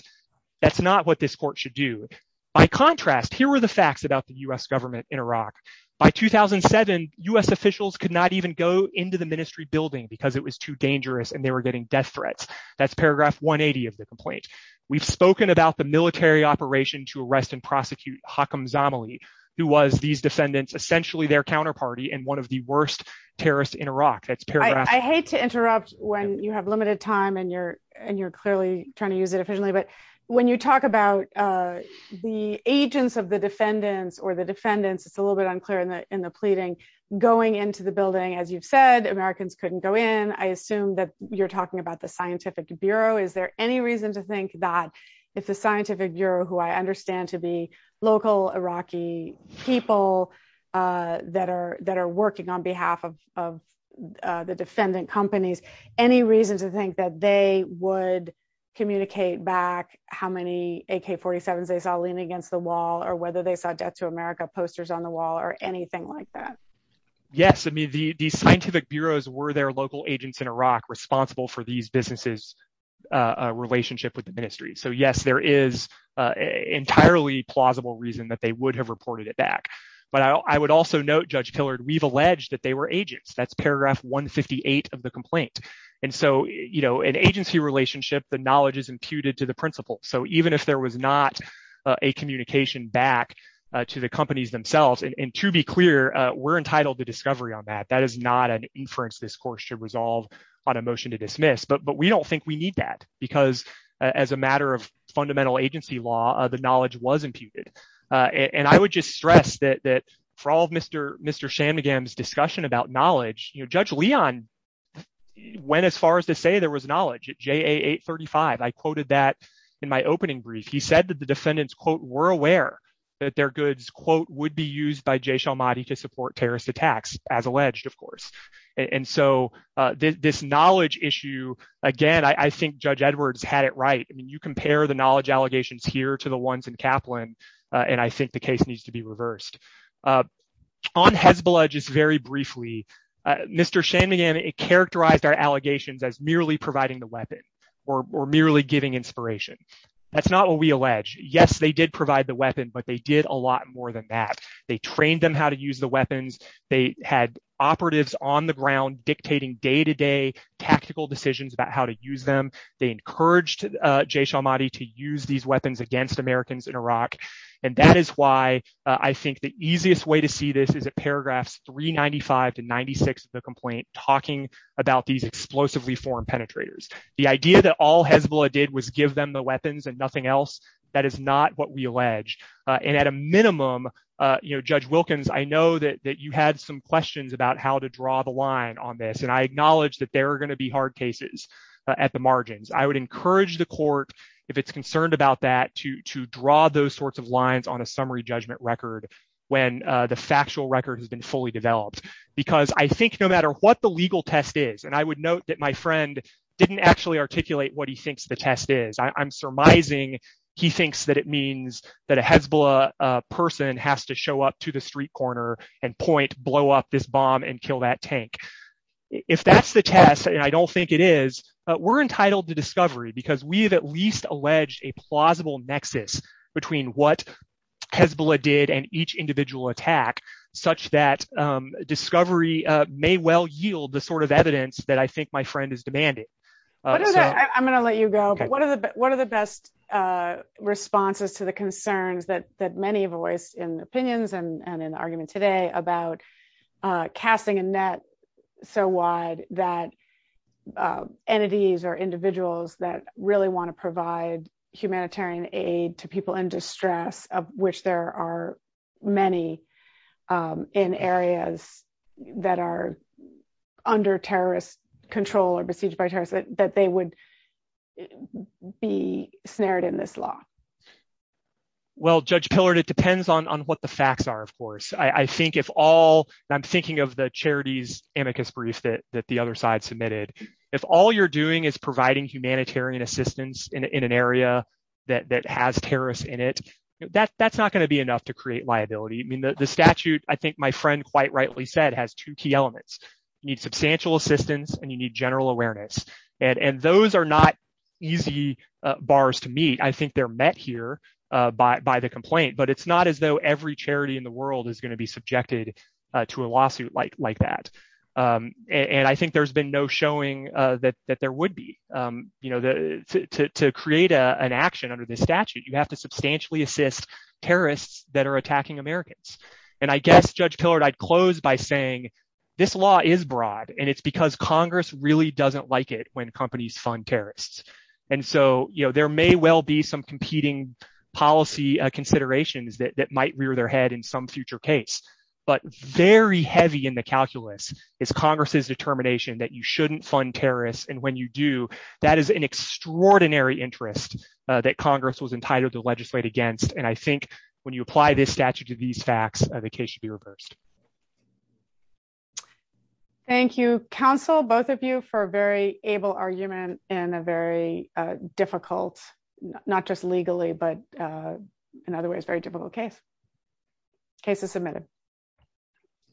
that's not what this court should do. By contrast, here are the facts about the U.S. government in Iraq. By 2007, U.S. officials could not even go into the ministry building because it was too dangerous and they were getting death threats. That's paragraph 180 of the complaint. We've spoken about the military operation to arrest and prosecute Hakem Zamali, who was, these defendants, essentially their counterparty and one of the worst terrorists in Iraq. That's paragraph... I hate to interrupt when you have limited time and you're clearly trying to use it efficiently, but when you talk about the agents of the defendants or the defendants, it's a little bit unclear in the pleading, going into the building, as you've said, Americans couldn't go in. I assume that you're talking about the scientific bureau. Is there any reason to think that it's a scientific bureau who I understand to be local Iraqi people that are working on behalf of the defendant companies? Any reason to think that they would communicate back how many AK-47s they found leaning against the wall or whether they found Death to America posters on the wall or anything like that? Yes. I mean, the scientific bureaus were their local agents in Iraq responsible for these businesses' relationship with the ministry. So yes, there is an entirely plausible reason that they would have reported it back. But I would also note, Judge Tillard, we've alleged that they were agents. That's paragraph 158 of the complaint. And so an agency relationship, the knowledge is imputed to the principal. So even if there was not a communication back to the companies themselves, and to be clear, we're entitled to discovery on that. That is not an inference this court should resolve on a motion to dismiss. But we don't think we need that because as a matter of fundamental agency law, the knowledge was imputed. And I would just stress that for all of Mr. Shamagam's discussion about knowledge, Judge Leon went as far as to say there was knowledge at JA 835. I quoted that in my opening brief. He said that the defendants, quote, were aware that their goods, quote, would be used by Jay Shalmati to support terrorist attacks, as alleged, of course. And so this knowledge issue, again, I think Judge Edwards had it right. I mean, you compare the knowledge allegations here to the ones in Kaplan, and I think the case needs to be reversed. On Hezbollah, just very briefly, Mr. Shamagam, it characterized our allegations as merely providing the weapon, or merely giving inspiration. That's not what we allege. Yes, they did provide the weapon, but they did a lot more than that. They trained them how to use the weapons. They had operatives on the ground dictating day-to-day tactical decisions about how to use them. They encouraged Jay Shalmati to use these weapons against Americans in Iraq. And that is why I think the easiest way to see this is at paragraphs 395 to 96 of the complaint talking about these explosively formed penetrators. The idea that all Hezbollah did was give them the weapons and nothing else, that is not what we allege. And at a minimum, you know, Judge Wilkins, I know that you had some questions about how to draw the line on this, and I acknowledge that there are going to be hard cases at the margins. I would encourage the court, if it's concerned about that, to draw those sorts of lines on a summary judgment record when the factual record has been fully developed. Because I think no matter what the legal test is, and I would note that my friend didn't actually articulate what he thinks the test is. I'm surmising he thinks that it means that a Hezbollah person has to show up to the street corner and point, blow up this bomb and kill that tank. If that's the test, and I don't think it is, we're entitled to discovery because we have at least alleged a plausible nexus between what Hezbollah did and each individual attack, such that discovery may well yield the sort of evidence that I think my friend is demanding. I'm going to let you go. What are the best responses to the concerns that many have voiced in the opinions and in the argument today about casting a net so wide that entities or individuals that really want to provide humanitarian aid to people in distress, of which there are many in areas that are under terrorist control or besieged by terrorists, that they would be snared in this law? Well, Judge Pillard, it depends on what the facts are, of course. I think if all, I'm thinking of the charities amicus brief that the other side submitted. If all you're doing is providing humanitarian assistance in an area that has terrorists in it, that's not going to be enough to create liability. I mean, the statute, I think my friend quite rightly said, has two key elements. You need substantial assistance and you need awareness. And those are not easy bars to meet. I think they're met here by the complaint, but it's not as though every charity in the world is going to be subjected to a lawsuit like that. And I think there's been no showing that there would be. To create an action under this statute, you have to substantially assist terrorists that are attacking Americans. And I guess, Congress really doesn't like it when companies fund terrorists. And so, there may well be some competing policy considerations that might rear their head in some future case. But very heavy in the calculus is Congress's determination that you shouldn't fund terrorists. And when you do, that is an extraordinary interest that Congress was entitled to legislate against. And I think when you apply this statute to these facts, the case should be reversed. Thank you, counsel, both of you for a very able argument in a very difficult, not just legally, but in other words, very difficult case. Case is submitted.